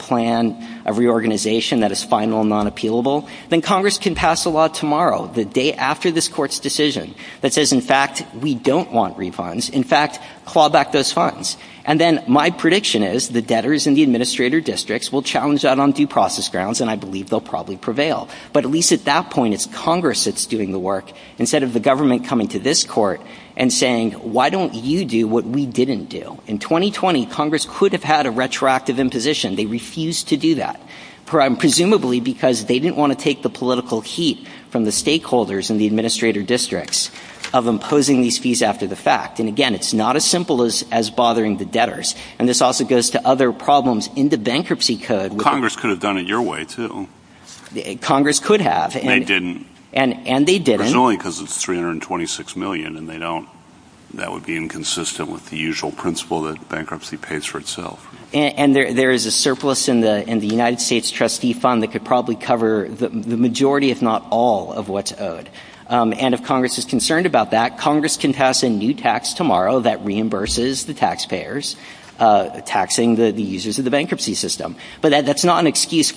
plan, a reorganization that is final and non-appealable, then Congress can pass a law tomorrow, the day after this Court's decision, that says, in fact, we don't want refunds. In fact, claw back those funds. And then my prediction is the debtors in the administrator districts will challenge out on due process grounds, and I believe they'll probably prevail. But at least at that point, it's Congress that's doing the work, instead of the government coming to this Court and saying, why don't you do what we didn't do? In 2020, Congress could have had a retroactive imposition. They refused to do that, presumably because they didn't want to take the political heat from the stakeholders in the administrator districts of imposing these fees after the fact. And, again, it's not as simple as bothering the debtors. And this also goes to other problems in the bankruptcy code. Well, Congress could have done it your way, too. Congress could have. They didn't. And they didn't. Presumably because it's $326 million, and they don't. That would be inconsistent with the usual principle that bankruptcy pays for itself. And there is a surplus in the United States trustee fund that could probably cover the majority, if not all, of what's owed. And if Congress is concerned about that, Congress can pass a new tax tomorrow that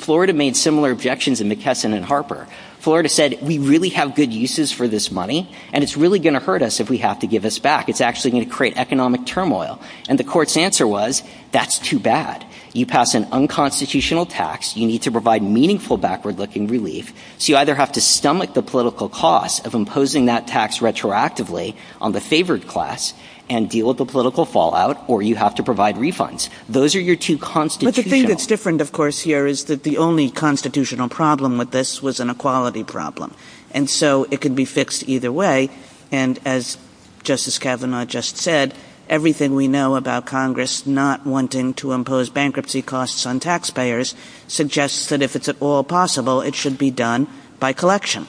Florida made similar objections in McKesson and Harper. Florida said, we really have good uses for this money, and it's really going to hurt us if we have to give us back. It's actually going to create economic turmoil. And the Court's answer was, that's too bad. You pass an unconstitutional tax. You need to provide meaningful backward-looking relief. So you either have to stomach the political cost of imposing that tax retroactively on the favored class and deal with the political fallout, or you have to provide refunds. Those are your two constitutional – But the thing that's different, of course, here is that the only constitutional problem with this was an equality problem. And so it could be fixed either way. And as Justice Kavanaugh just said, everything we know about Congress not wanting to impose bankruptcy costs on taxpayers suggests that if it's at all possible, it should be done by collection.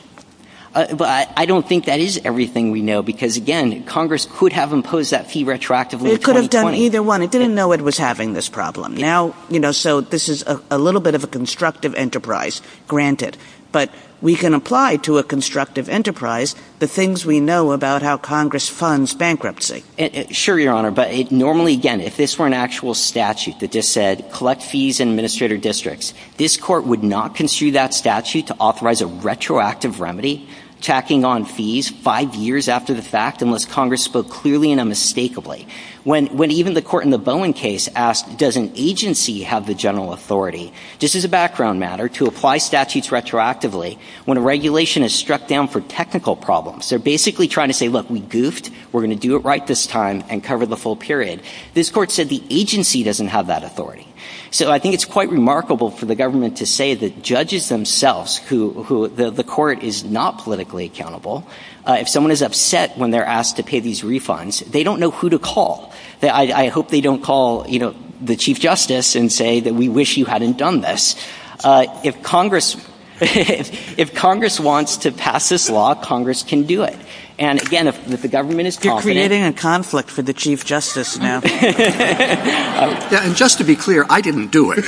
But I don't think that is everything we know because, again, Congress could have imposed that fee retroactively in 2020. It could have done either one. It didn't know it was having this problem. Now, you know, so this is a little bit of a constructive enterprise, granted. But we can apply to a constructive enterprise the things we know about how Congress funds bankruptcy. Sure, Your Honor. But normally, again, if this were an actual statute that just said, collect fees in administrator districts, this Court would not construe that statute to authorize a retroactive remedy, tacking on fees five years after the fact unless Congress spoke clearly and unmistakably. When even the Court in the Bowen case asked, does an agency have the general authority, just as a background matter, to apply statutes retroactively when a regulation is struck down for technical problems? They're basically trying to say, look, we goofed. We're going to do it right this time and cover the full period. This Court said the agency doesn't have that authority. So I think it's quite remarkable for the government to say that judges themselves who the Court is not politically accountable, if someone is upset when they're called, I hope they don't call, you know, the Chief Justice and say that we wish you hadn't done this. If Congress wants to pass this law, Congress can do it. And, again, if the government is confident. You're creating a conflict for the Chief Justice now. And just to be clear, I didn't do it.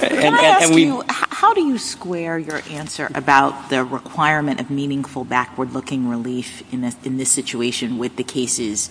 Can I ask you, how do you square your answer about the requirement of meaningful backward-looking relief in this situation with the cases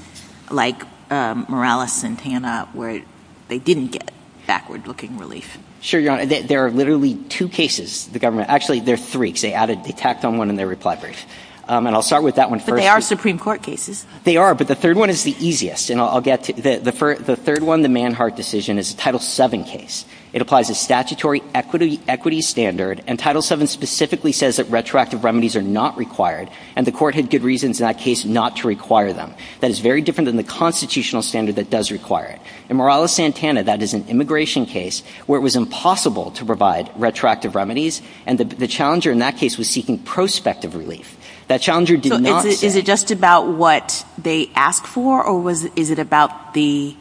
like Morales-Santana where they didn't get backward-looking relief? Sure, Your Honor. There are literally two cases the government – actually, there are three because they tacked on one in their reply brief. And I'll start with that one first. But they are Supreme Court cases. They are. But the third one is the easiest. And I'll get to – the third one, the Manhart decision, is a Title VII case. It applies a statutory equity standard. And Title VII specifically says that retroactive remedies are not required. And the court had good reasons in that case not to require them. That is very different than the constitutional standard that does require it. In Morales-Santana, that is an immigration case where it was impossible to provide retroactive remedies. And the challenger in that case was seeking prospective relief. That challenger did not say – So is it just about what they ask for? Or is it about the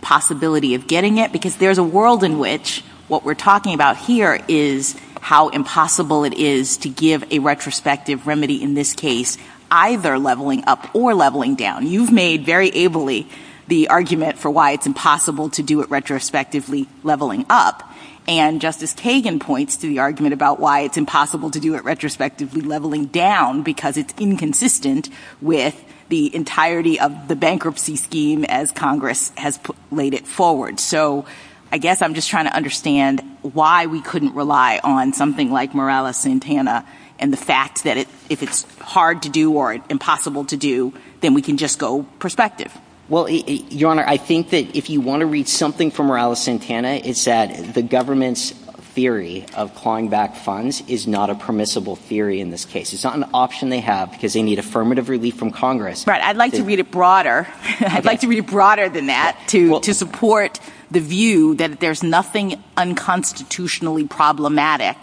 possibility of getting it? Because there's a world in which what we're talking about here is how impossible it is to give a retrospective remedy in this case, either leveling up or leveling down. You've made very ably the argument for why it's impossible to do it retrospectively, leveling up. And Justice Kagan points to the argument about why it's impossible to do it retrospectively, leveling down, because it's inconsistent with the entirety of the bankruptcy scheme as Congress has laid it forward. So I guess I'm just trying to understand why we couldn't rely on something like Morales-Santana and the fact that if it's hard to do or impossible to do, then we can just go prospective. Well, Your Honor, I think that if you want to read something from Morales-Santana, it's that the government's theory of clawing back funds is not a permissible theory in this case. It's not an option they have because they need affirmative relief from Congress. Right. I'd like to read it broader. I'd like to read it broader than that to support the view that there's nothing unconstitutionally problematic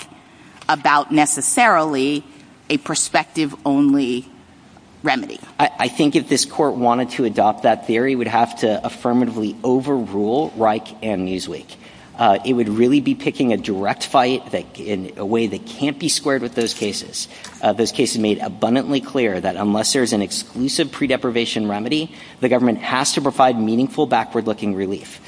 about necessarily a prospective-only remedy. I think if this Court wanted to adopt that theory, it would have to affirmatively overrule Reich and Newsweek. It would really be picking a direct fight in a way that can't be squared with those cases, those cases made abundantly clear that unless there's an exclusive pre-deprivation remedy, the government has to provide meaningful, backward-looking relief.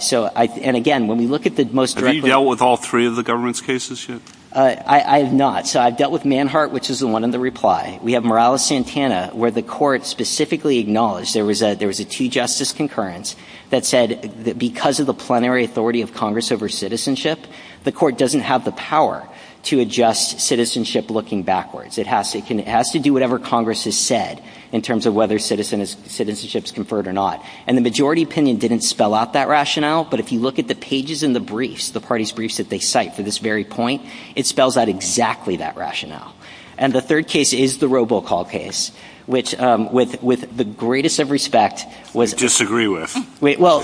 So, and again, when we look at the most direct... Have you dealt with all three of the government's cases yet? I have not. So I've dealt with Manhart, which is the one in the reply. We have Morales-Santana, where the Court specifically acknowledged there was a two-justice concurrence that said that because of the plenary authority of Congress over citizenship, the Court doesn't have the power to adjust citizenship looking backwards. It has to do whatever Congress has said in terms of whether citizenship is conferred or not. And the majority opinion didn't spell out that rationale. But if you look at the pages in the briefs, the party's briefs that they cite for this very point, it spells out exactly that rationale. And the third case is the robocall case, which with the greatest of respect was... We disagree with. Well,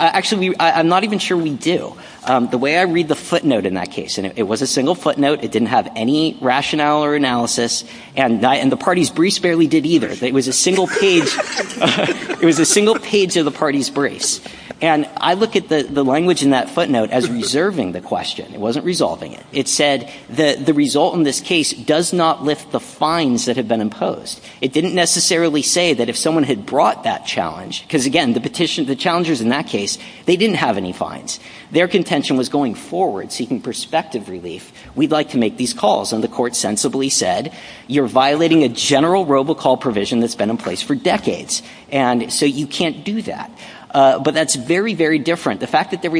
actually, I'm not even sure we do. The way I read the footnote in that case, and it was a single footnote. It didn't have any rationale or analysis. And the party's briefs barely did either. It was a single page. It was a single page of the party's briefs. And I look at the language in that footnote as reserving the question. It wasn't resolving it. It said that the result in this case does not lift the fines that have been imposed. It didn't necessarily say that if someone had brought that challenge, because, again, the petitioners, the challengers in that case, they didn't have any fines. Their contention was going forward, seeking perspective relief. We'd like to make these calls. And the court sensibly said, you're violating a general robocall provision that's been in place for decades. And so you can't do that. But that's very, very different. The fact that the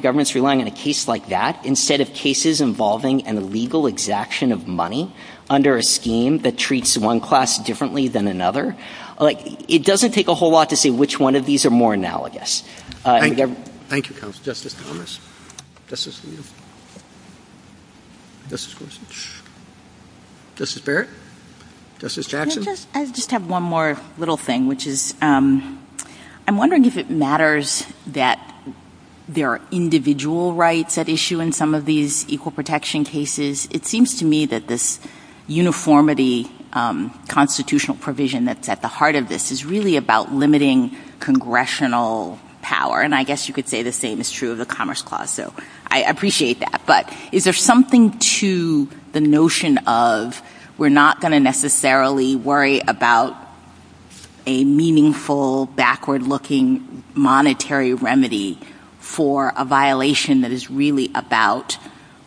government's relying on a case like that instead of cases involving an illegal exaction of money under a scheme that treats one class differently than another, it doesn't take a whole lot to say which one of these are more analogous. Thank you, counsel. Justice Thomas. Justice Leal. Justice Gorsuch. Justice Barrett. Justice Jackson. I just have one more little thing, which is I'm wondering if it matters that there are individual rights at issue in some of these equal protection cases. It seems to me that this uniformity constitutional provision that's at the forefront of Congress' power, and I guess you could say the same is true of the Commerce Clause, so I appreciate that. But is there something to the notion of we're not going to necessarily worry about a meaningful, backward-looking monetary remedy for a violation that is really about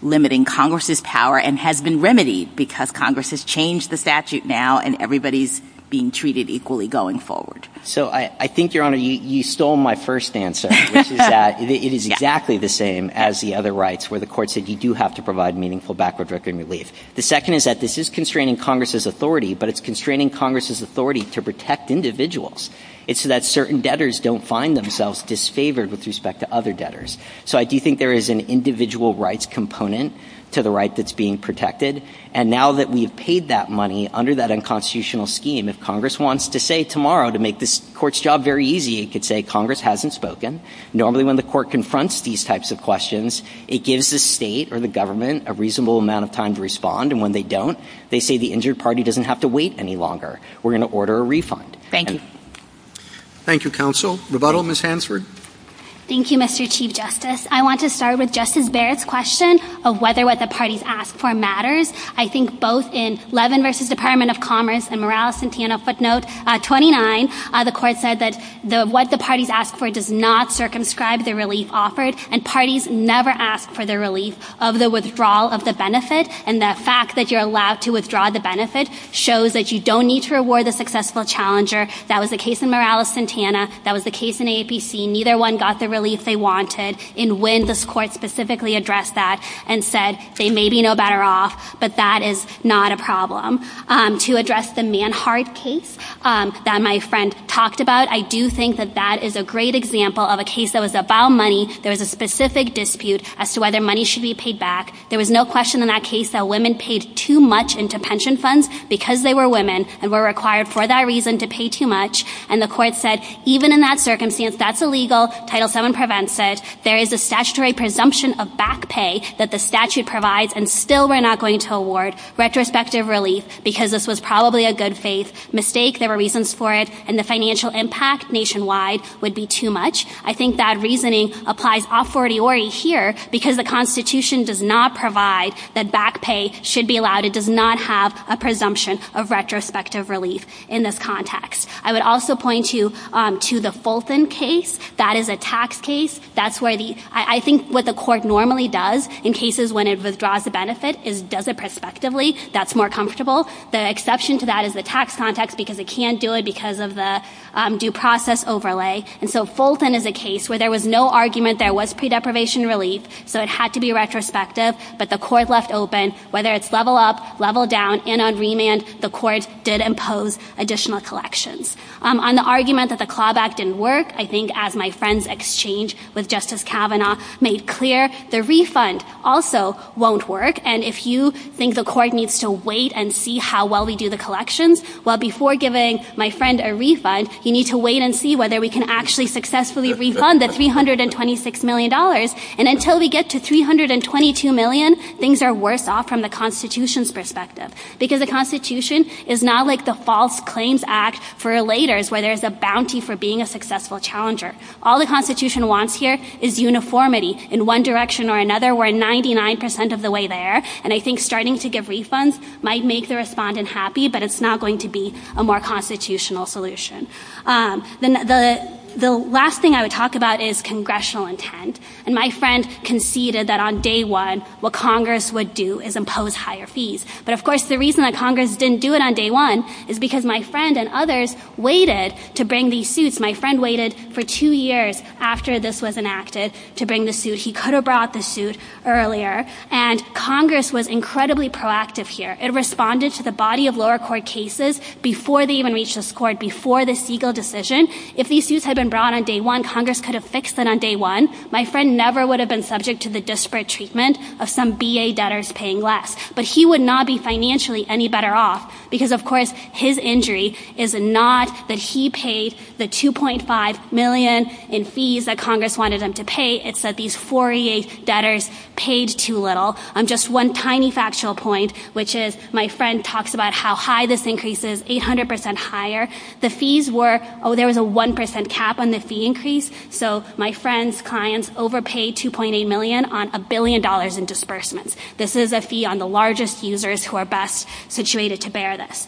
limiting Congress' power and has been remedied because Congress has changed the statute now and everybody's being treated equally going forward? So I think, Your Honor, you stole my first answer, which is that it is exactly the same as the other rights where the Court said you do have to provide meaningful, backward-looking relief. The second is that this is constraining Congress' authority, but it's constraining Congress' authority to protect individuals. It's so that certain debtors don't find themselves disfavored with respect to other debtors. So I do think there is an individual rights component to the right that's being protected. And now that we've paid that money under that unconstitutional scheme, if Congress wants to say tomorrow, to make this Court's job very easy, it could say Congress hasn't spoken. Normally, when the Court confronts these types of questions, it gives the State or the government a reasonable amount of time to respond. And when they don't, they say the injured party doesn't have to wait any longer. We're going to order a refund. Thank you. Thank you, Counsel. Rebuttal, Ms. Hansford. Thank you, Mr. Chief Justice. I want to start with Justice Barrett's question of whether what the parties ask for matters. I think both in Levin v. Department of Commerce and Morales-Santana footnote 29, the Court said that what the parties ask for does not circumscribe the relief offered. And parties never ask for the relief of the withdrawal of the benefit. And the fact that you're allowed to withdraw the benefit shows that you don't need to reward the successful challenger. That was the case in Morales-Santana. That was the case in AAPC. Neither one got the relief they wanted. And when this Court specifically addressed that and said they may be no better off, but that is not a problem. To address the Manhart case that my friend talked about, I do think that that is a great example of a case that was about money. There was a specific dispute as to whether money should be paid back. There was no question in that case that women paid too much into pension funds because they were women and were required for that reason to pay too much. And the Court said even in that circumstance, that's illegal. Title VII prevents it. There is a statutory presumption of back pay that the statute provides and still we're not going to award retrospective relief because this was probably a good faith mistake. There were reasons for it. And the financial impact nationwide would be too much. I think that reasoning applies a fortiori here because the Constitution does not provide that back pay should be allowed. It does not have a presumption of retrospective relief in this context. I would also point you to the Fulton case. That is a tax case. That's where the – I think what the Court normally does in cases when it benefits is does it prospectively. That's more comfortable. The exception to that is the tax context because it can't do it because of the due process overlay. And so Fulton is a case where there was no argument there was pre-deprivation relief. So it had to be retrospective. But the Court left open, whether it's level up, level down, in on remand, the Court did impose additional collections. On the argument that the CLAWBAC didn't work, I think as my friend's exchange with Justice Kavanaugh made clear, the refund also won't work. And if you think the Court needs to wait and see how well we do the collections, well, before giving my friend a refund, you need to wait and see whether we can actually successfully refund the $326 million. And until we get to $322 million, things are worse off from the Constitution's perspective because the Constitution is not like the False Claims Act forulators where there's a bounty for being a successful challenger. All the Constitution wants here is uniformity in one direction or another, and I think starting to give refunds might make the respondent happy, but it's not going to be a more constitutional solution. The last thing I would talk about is congressional intent. And my friend conceded that on day one what Congress would do is impose higher fees. But, of course, the reason that Congress didn't do it on day one is because my friend and others waited to bring these suits. My friend waited for two years after this was enacted to bring the suit. He could have brought the suit earlier. And Congress was incredibly proactive here. It responded to the body of lower court cases before they even reached this court, before the Siegel decision. If these suits had been brought on day one, Congress could have fixed them on day one. My friend never would have been subject to the disparate treatment of some B.A. debtors paying less. But he would not be financially any better off because, of course, his injury is not that he paid the $2.5 million in fees that Congress wanted him to pay. It's that these 48 debtors paid too little. Just one tiny factual point, which is my friend talks about how high this increase is, 800% higher. The fees were, oh, there was a 1% cap on the fee increase. So my friend's clients overpaid $2.8 million on a billion dollars in disbursements. This is a fee on the largest users who are best situated to bear this.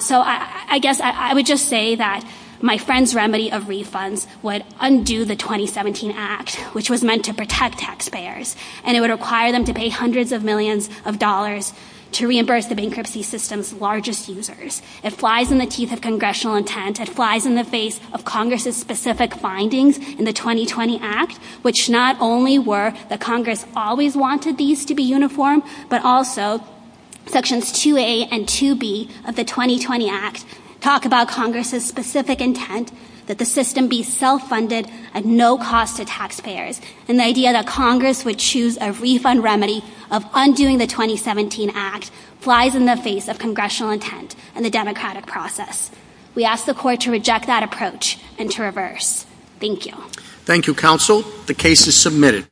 So I guess I would just say that my friend's remedy of refunds would undo the 2017 Act, which was meant to protect taxpayers, and it would require them to pay hundreds of millions of dollars to reimburse the bankruptcy system's largest users. It flies in the teeth of congressional intent. It flies in the face of Congress's specific findings in the 2020 Act, which not only were that Congress always wanted these to be uniform, but also Sections 2A and 2B of the 2020 Act talk about Congress's specific intent, that the system be self-funded at no cost to taxpayers, and the idea that Congress would choose a refund remedy of undoing the 2017 Act flies in the face of congressional intent and the democratic process. We ask the Court to reject that approach and to reverse. Thank you. Thank you, Counsel. The case is submitted.